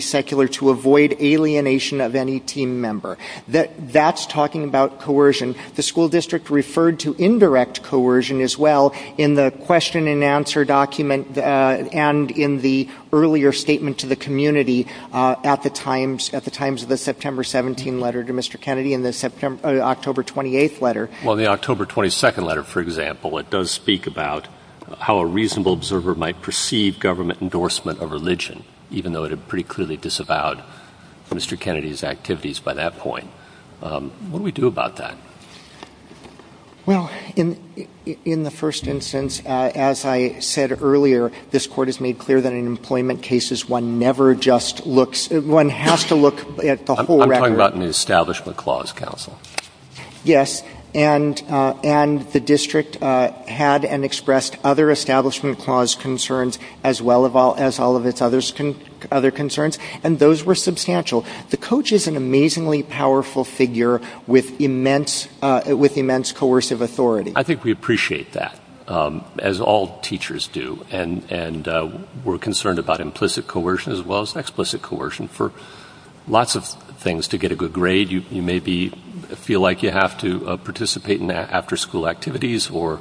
secular to avoid alienation of any team member. That's talking about coercion. The school district referred to indirect coercion as well in the question and answer document and in the earlier statement to the community at the times of the September 17th letter to Mr. Kennedy and the October 28th letter. Well, the October 22nd letter, for example, it does speak about how a reasonable observer might perceive government endorsement of religion, even though it had pretty clearly disavowed Mr. Kennedy's activities by that point. What do we do about that? Well, in the first instance, as I said earlier, this court has made clear that in employment cases, one never just looks—one has to look at the whole record. I'm talking about an Establishment Clause counsel. Yes, and the district had and expressed other Establishment Clause concerns as well as all of its other concerns, and those were substantial. The coach is an amazingly powerful figure with immense coercive authority. I think we appreciate that, as all teachers do, and we're concerned about implicit coercion as well as explicit coercion. For lots of things, to get a good grade, you maybe feel like you have to participate in after-school activities or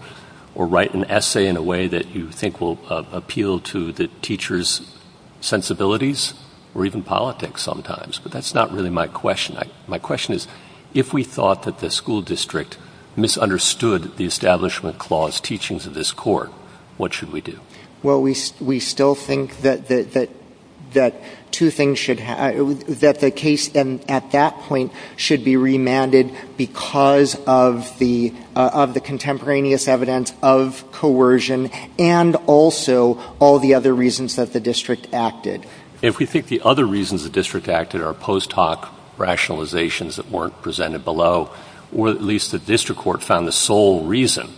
write an essay in a way that you think will appeal to the teacher's sensibilities or even politics sometimes, but that's not really my question. My question is, if we thought that the school district misunderstood the Establishment Clause teachings of this court, what should we do? Well, we still think that two things should—that the case, at that point, should be remanded because of the contemporaneous evidence of coercion and also all the other reasons that the district acted. If we think the other reasons the district acted are post hoc rationalizations that weren't presented below, or at least the district court found the sole reason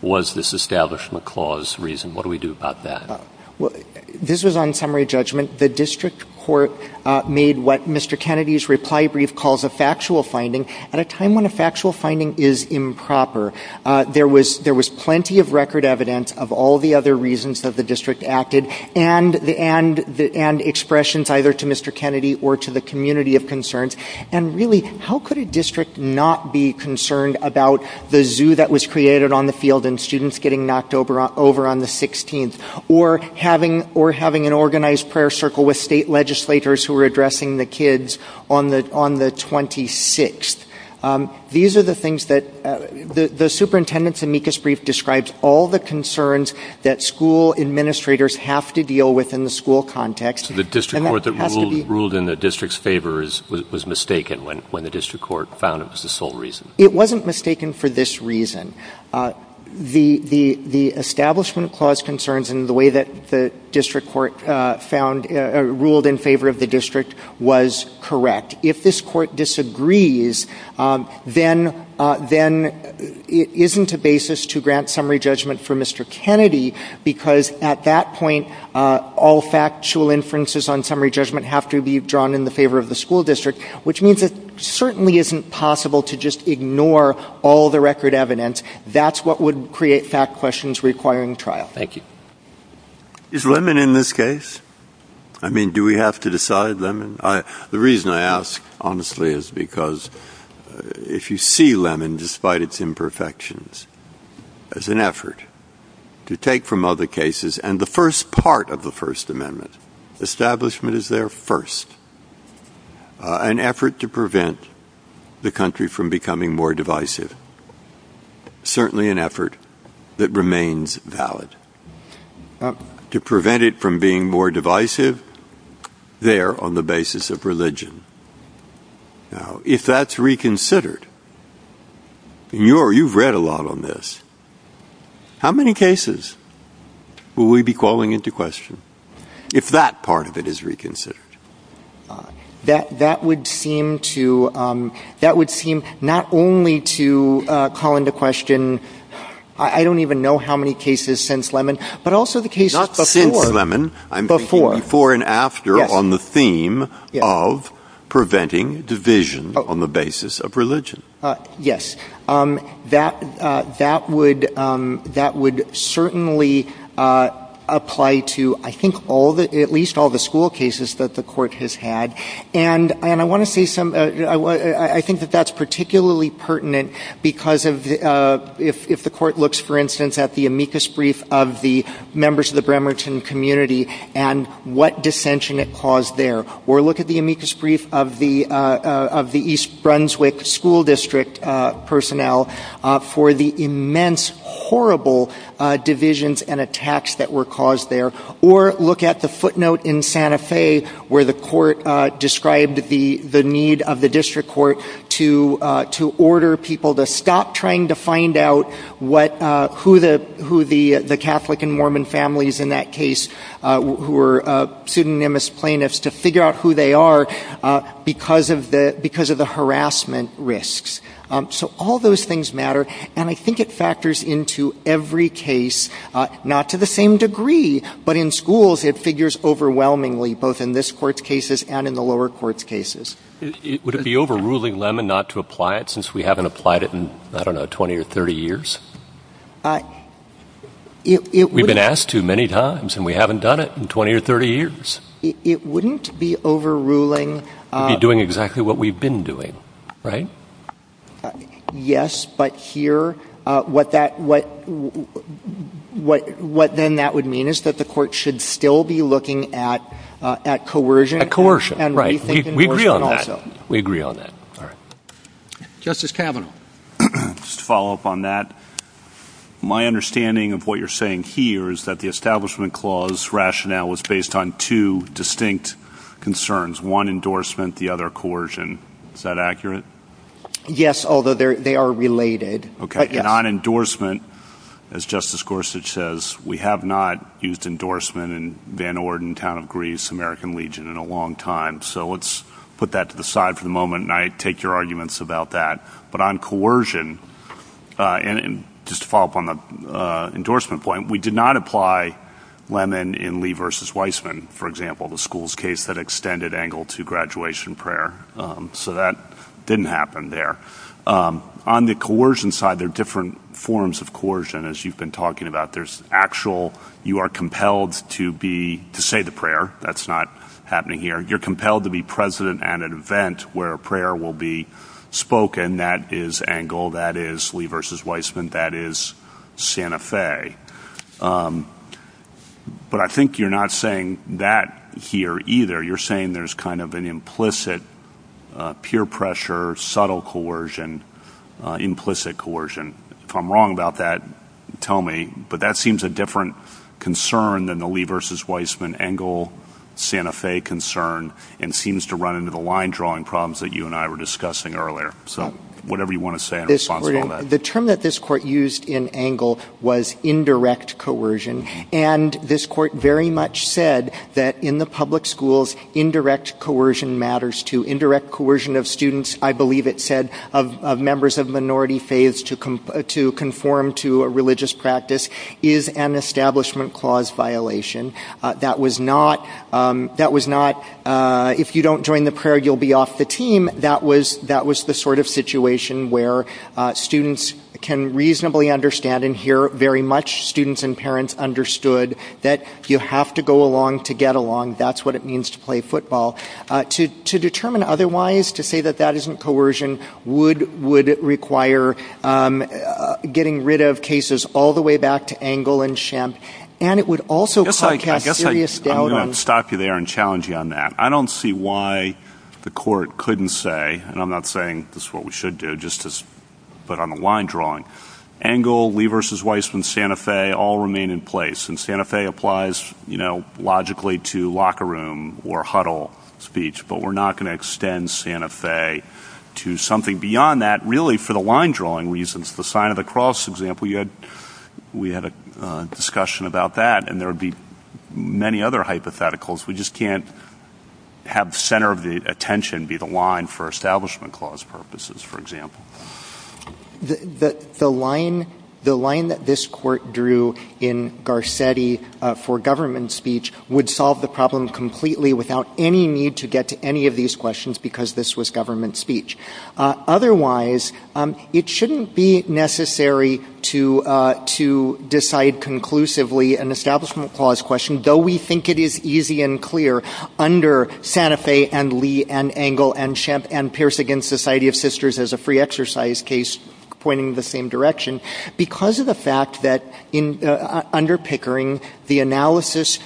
was this Establishment Clause reason, what do we do about that? This was on summary judgment. The district court made what Mr. Kennedy's reply brief calls a factual finding. At a time when a factual finding is improper, there was plenty of record evidence of all the other reasons that the district acted and expressions either to Mr. Kennedy or to the community of concerns, and really, how could a district not be concerned about the zoo that was created on the field and students getting knocked over on the 16th, or having an organized prayer circle with state legislators who were addressing the kids on the 26th? These are the things that—the superintendent's amicus brief describes all the concerns that school administrators have to deal with in the school context. So the district court that ruled in the district's favor was mistaken when the district court found it was the sole reason? It wasn't mistaken for this reason. The Establishment Clause concerns in the way that the district court ruled in favor of the district was correct. If this court disagrees, then it isn't a basis to grant summary judgment for Mr. Kennedy because at that point, all factual inferences on summary judgment have to be drawn in the favor of the school district, which means it certainly isn't possible to just ignore all the record evidence. That's what would create fact questions requiring trial. Thank you. Is Lemon in this case? I mean, do we have to decide Lemon? The reason I ask, honestly, is because if you see Lemon, despite its imperfections, as an effort to take from other cases and the first part of the First Amendment, establishment is there first, an effort to prevent the country from becoming more divisive, certainly an effort that remains valid, to prevent it from being more divisive there on the basis of religion. Now, if that's reconsidered, you've read a lot on this. How many cases will we be calling into question if that part of it is reconsidered? That would seem not only to call into question, I don't even know how many cases since Lemon, but also the cases before. Before and after on the theme of preventing division on the basis of religion. Yes. That would certainly apply to, I think, at least all the school cases that the court has had. And I want to say something. I think that that's particularly pertinent because if the court looks, for instance, at the amicus brief of the members of the Bremerton community and what dissension it caused there, or look at the amicus brief of the East Brunswick school district personnel for the immense, horrible divisions and attacks that were caused there, or look at the footnote in Santa Fe where the court described the need of the district court to order people to stop trying to find out who the Catholic and Mormon families in that case, who were pseudonymous plaintiffs, to figure out who they are because of the harassment risks. So all those things matter, and I think it factors into every case, not to the same degree, but in schools it figures overwhelmingly, both in this court's cases and in the lower court's cases. Would it be overruling Lemon not to apply it since we haven't applied it in, I don't know, 20 or 30 years? We've been asked too many times, and we haven't done it in 20 or 30 years. It wouldn't be overruling. It would be doing exactly what we've been doing, right? Yes, but here what then that would mean is that the court should still be looking at coercion. We agree on that. Justice Kavanaugh. Just to follow up on that, my understanding of what you're saying here is that the Establishment Clause rationale was based on two distinct concerns, one endorsement, the other coercion. Is that accurate? Yes, although they are related. Okay, and on endorsement, as Justice Gorsuch says, we have not used endorsement in Van Orden, town of Greece, American Legion in a long time. So let's put that to the side for the moment, and I take your arguments about that. But on coercion, and just to follow up on the endorsement point, we did not apply Lemon in Lee v. Weissman, for example, the school's case that extended Engle to graduation prayer. So that didn't happen there. On the coercion side, there are different forms of coercion, as you've been talking about. You are compelled to say the prayer. That's not happening here. You're compelled to be president at an event where a prayer will be spoken. That is Engle. That is Lee v. Weissman. That is Santa Fe. But I think you're not saying that here either. You're saying there's kind of an implicit peer pressure, subtle coercion, implicit coercion. If I'm wrong about that, tell me. But that seems a different concern than the Lee v. Weissman, Engle, Santa Fe concern, and seems to run into the line-drawing problems that you and I were discussing earlier. So whatever you want to say in response to that. The term that this court used in Engle was indirect coercion. And this court very much said that in the public schools, indirect coercion matters too. Indirect coercion of students, I believe it said, of members of minority faiths to conform to a religious practice, is an establishment clause violation. That was not, if you don't join the prayer, you'll be off the team. That was the sort of situation where students can reasonably understand, and here very much students and parents understood, that you have to go along to get along. That's what it means to play football. To determine otherwise, to say that that isn't coercion, would require getting rid of cases all the way back to Engle and Schempp. And it would also put a serious deadline. I'm going to stop you there and challenge you on that. I don't see why the court couldn't say, and I'm not saying this is what we should do, just to put on the line-drawing, Engle, Lee v. Weissman, Santa Fe all remain in place. And Santa Fe applies, you know, logically to locker room or huddle speech. But we're not going to extend Santa Fe to something beyond that, really for the line-drawing reasons. The sign of the cross example, we had a discussion about that, and there would be many other hypotheticals. We just can't have the center of the attention be the line for establishment clause purposes, for example. The line that this court drew in Garcetti for government speech would solve the problem completely without any need to get to any of these questions because this was government speech. Otherwise, it shouldn't be necessary to decide conclusively an establishment clause question, though we think it is easy and clear under Santa Fe and Lee and Engle and Pierce v. Society of Sisters as a free exercise case pointing the same direction, because of the fact that under Pickering, the analysis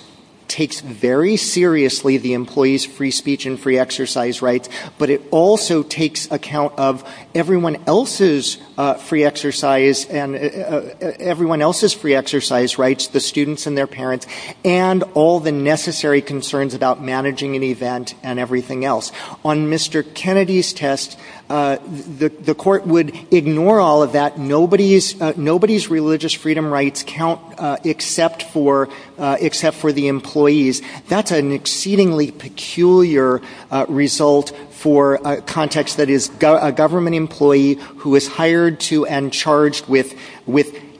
takes very seriously the employees' free speech and free exercise rights, but it also takes account of everyone else's free exercise rights, the students and their parents, and all the necessary concerns about managing an event and everything else. On Mr. Kennedy's test, the court would ignore all of that. Nobody's religious freedom rights count except for the employees. That's an exceedingly peculiar result for a context that is a government employee who is hired to and charged with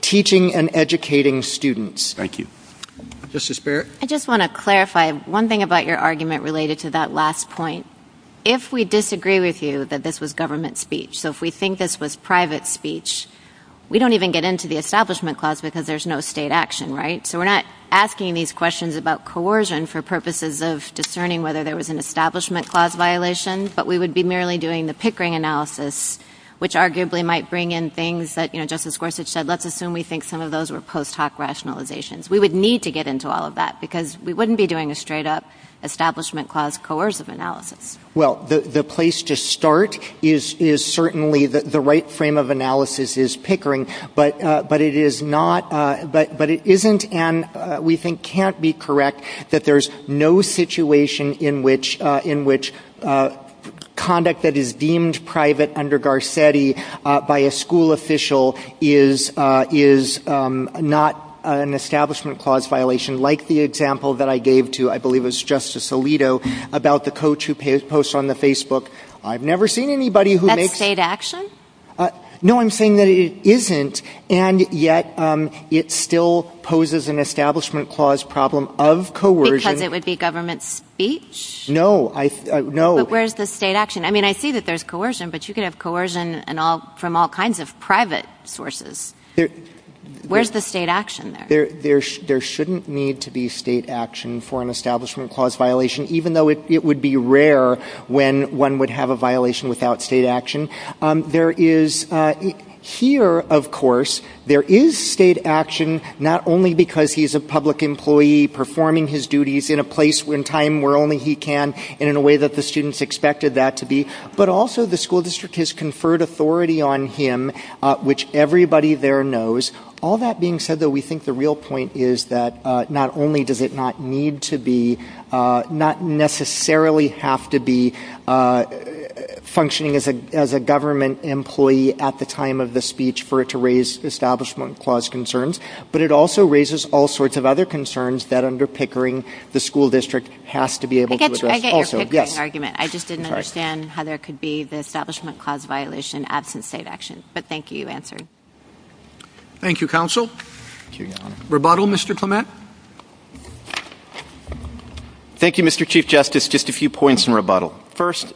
teaching and educating students. Thank you. Justice Barrett? I just want to clarify one thing about your argument related to that last point. If we disagree with you that this was government speech, so if we think this was private speech, we don't even get into the establishment clause because there's no state action, right? So we're not asking these questions about coercion for purposes of discerning whether there was an establishment clause violation, but we would be merely doing the Pickering analysis, which arguably might bring in things that Justice Gorsuch said. Let's assume we think some of those were post hoc rationalizations. We would need to get into all of that because we wouldn't be doing a straight up establishment clause coercive analysis. Well, the place to start is certainly the right frame of analysis is Pickering, but it isn't and we think can't be correct that there's no situation in which conduct that is deemed private under Garcetti by a school official is not an establishment clause violation, like the example that I gave to, I believe it was Justice Alito, about the coach who posts on the Facebook. I've never seen anybody who makes... That's state action? No, I'm saying that it isn't and yet it still poses an establishment clause problem of coercion. Because it would be government speech? No. But where's the state action? I mean, I see that there's coercion, but you could have coercion from all kinds of private sources. Where's the state action there? There shouldn't need to be state action for an establishment clause violation, even though it would be rare when one would have a violation without state action. Here, of course, there is state action, not only because he's a public employee performing his duties in a place and time where only he can and in a way that the students expected that to be, but also the school district has conferred authority on him, which everybody there knows. All that being said, though, we think the real point is that not only does it not need to be, not necessarily have to be functioning as a government employee at the time of the speech for it to raise establishment clause concerns, but it also raises all sorts of other concerns that under pickering the school district has to be able to address also. I get your pickering argument. I just didn't understand how there could be the establishment clause violation absent state action. But thank you for answering. Thank you, counsel. Rebuttal, Mr. Clement? Thank you, Mr. Chief Justice. Just a few points in rebuttal. First,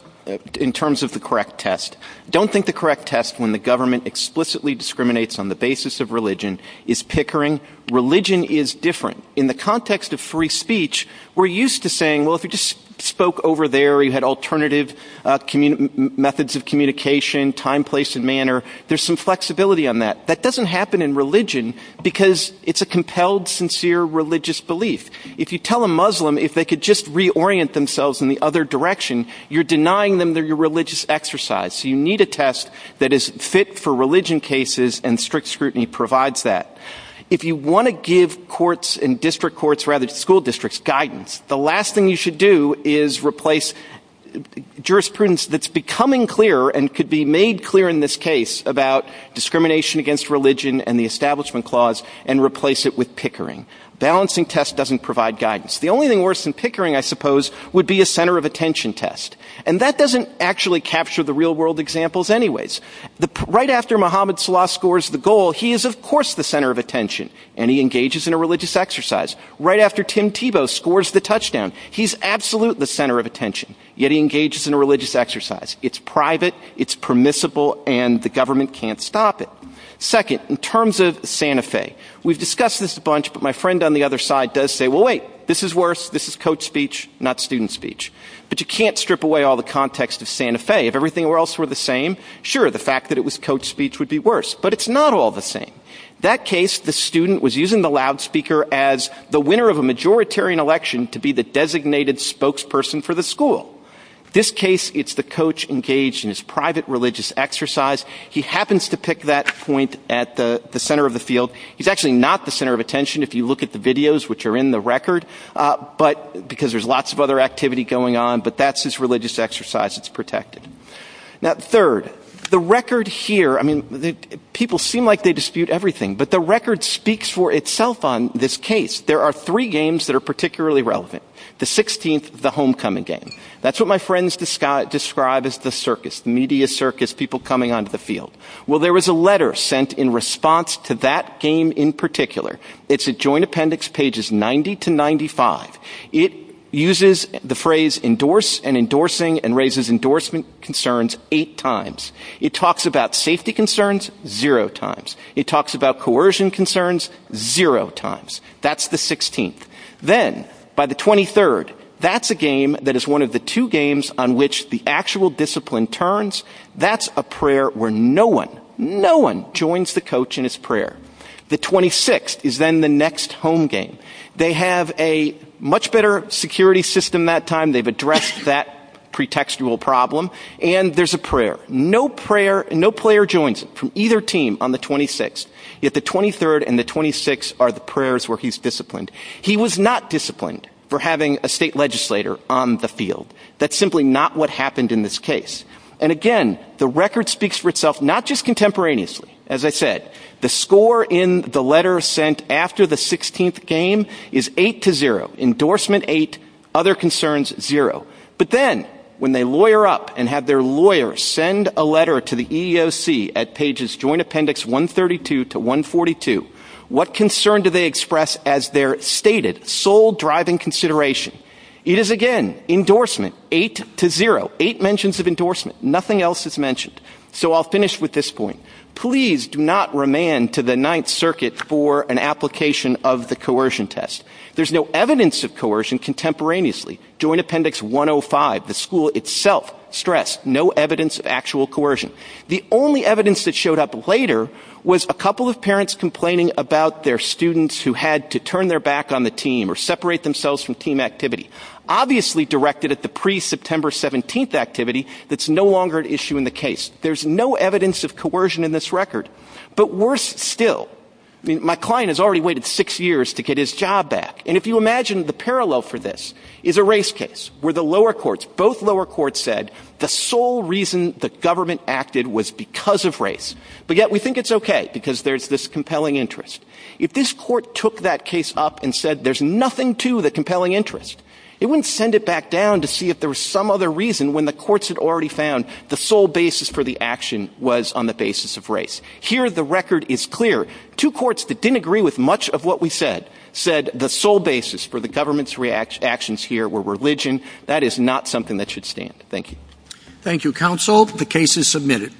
in terms of the correct test. Don't think the correct test when the government explicitly discriminates on the basis of religion is pickering. Religion is different. In the context of free speech, we're used to saying, well, if you just spoke over there, you had alternative methods of communication, time, place, and manner, there's some flexibility on that. That doesn't happen in religion because it's a compelled, sincere religious belief. If you tell a Muslim if they could just reorient themselves in the other direction, you're denying them their religious exercise. You need a test that is fit for religion cases and strict scrutiny provides that. If you want to give courts and district courts, rather school districts, guidance, the last thing you should do is replace jurisprudence that's becoming clearer and could be made clear in this case about discrimination against religion and the establishment clause and replace it with pickering. Balancing test doesn't provide guidance. The only thing worse than pickering, I suppose, would be a center of attention test. And that doesn't actually capture the real-world examples anyways. Right after Mohammad Salah scores the goal, he is, of course, the center of attention and he engages in a religious exercise. Right after Tim Tebow scores the touchdown, he's absolutely the center of attention, yet he engages in a religious exercise. It's private, it's permissible, and the government can't stop it. Second, in terms of Santa Fe, we've discussed this a bunch, but my friend on the other side does say, well, wait, this is worse, this is coach speech, not student speech. But you can't strip away all the context of Santa Fe. If everything else were the same, sure, the fact that it was coach speech would be worse, but it's not all the same. That case, the student was using the loudspeaker as the winner of a majoritarian election to be the designated spokesperson for the school. This case, it's the coach engaged in his private religious exercise. He happens to pick that point at the center of the field. He's actually not the center of attention if you look at the videos which are in the record, because there's lots of other activity going on, but that's his religious exercise, it's protected. Now, third, the record here, I mean, people seem like they dispute everything, but the record speaks for itself on this case. There are three games that are particularly relevant. The 16th, the homecoming game. That's what my friends describe as the circus, media circus, people coming onto the field. Well, there was a letter sent in response to that game in particular. It's a joint appendix, pages 90 to 95. It uses the phrase endorse and endorsing and raises endorsement concerns eight times. It talks about safety concerns zero times. It talks about coercion concerns zero times. That's the 16th. Then, by the 23rd, that's a game that is one of the two games on which the actual discipline turns. That's a prayer where no one, no one joins the coach in his prayer. The 26th is then the next home game. They have a much better security system that time. They've addressed that pretextual problem, and there's a prayer. No prayer, no player joins from either team on the 26th, yet the 23rd and the 26th are the prayers where he's disciplined. He was not disciplined for having a state legislator on the field. That's simply not what happened in this case. And, again, the record speaks for itself, not just contemporaneously. As I said, the score in the letter sent after the 16th game is eight to zero, endorsement eight, other concerns zero. But then when they lawyer up and have their lawyer send a letter to the EEOC at pages joint appendix 132 to 142, what concern do they express as their stated sole driving consideration? It is, again, endorsement eight to zero, eight mentions of endorsement. Nothing else is mentioned. So I'll finish with this point. Please do not remand to the Ninth Circuit for an application of the coercion test. There's no evidence of coercion contemporaneously. Joint appendix 105, the school itself stressed no evidence of actual coercion. The only evidence that showed up later was a couple of parents complaining about their students who had to turn their back on the team or separate themselves from team activity, obviously directed at the pre-September 17th activity that's no longer an issue in the case. There's no evidence of coercion in this record. But worse still, my client has already waited six years to get his job back. And if you imagine the parallel for this is a race case where the lower courts, both lower courts said the sole reason the government acted was because of race. But yet we think it's okay because there's this compelling interest. If this court took that case up and said there's nothing to the compelling interest, it wouldn't send it back down to see if there was some other reason when the courts had already found the sole basis for the action was on the basis of race. Here the record is clear. Two courts that didn't agree with much of what we said, said the sole basis for the government's actions here were religion. That is not something that should stand. Thank you. Thank you, counsel. The case is submitted.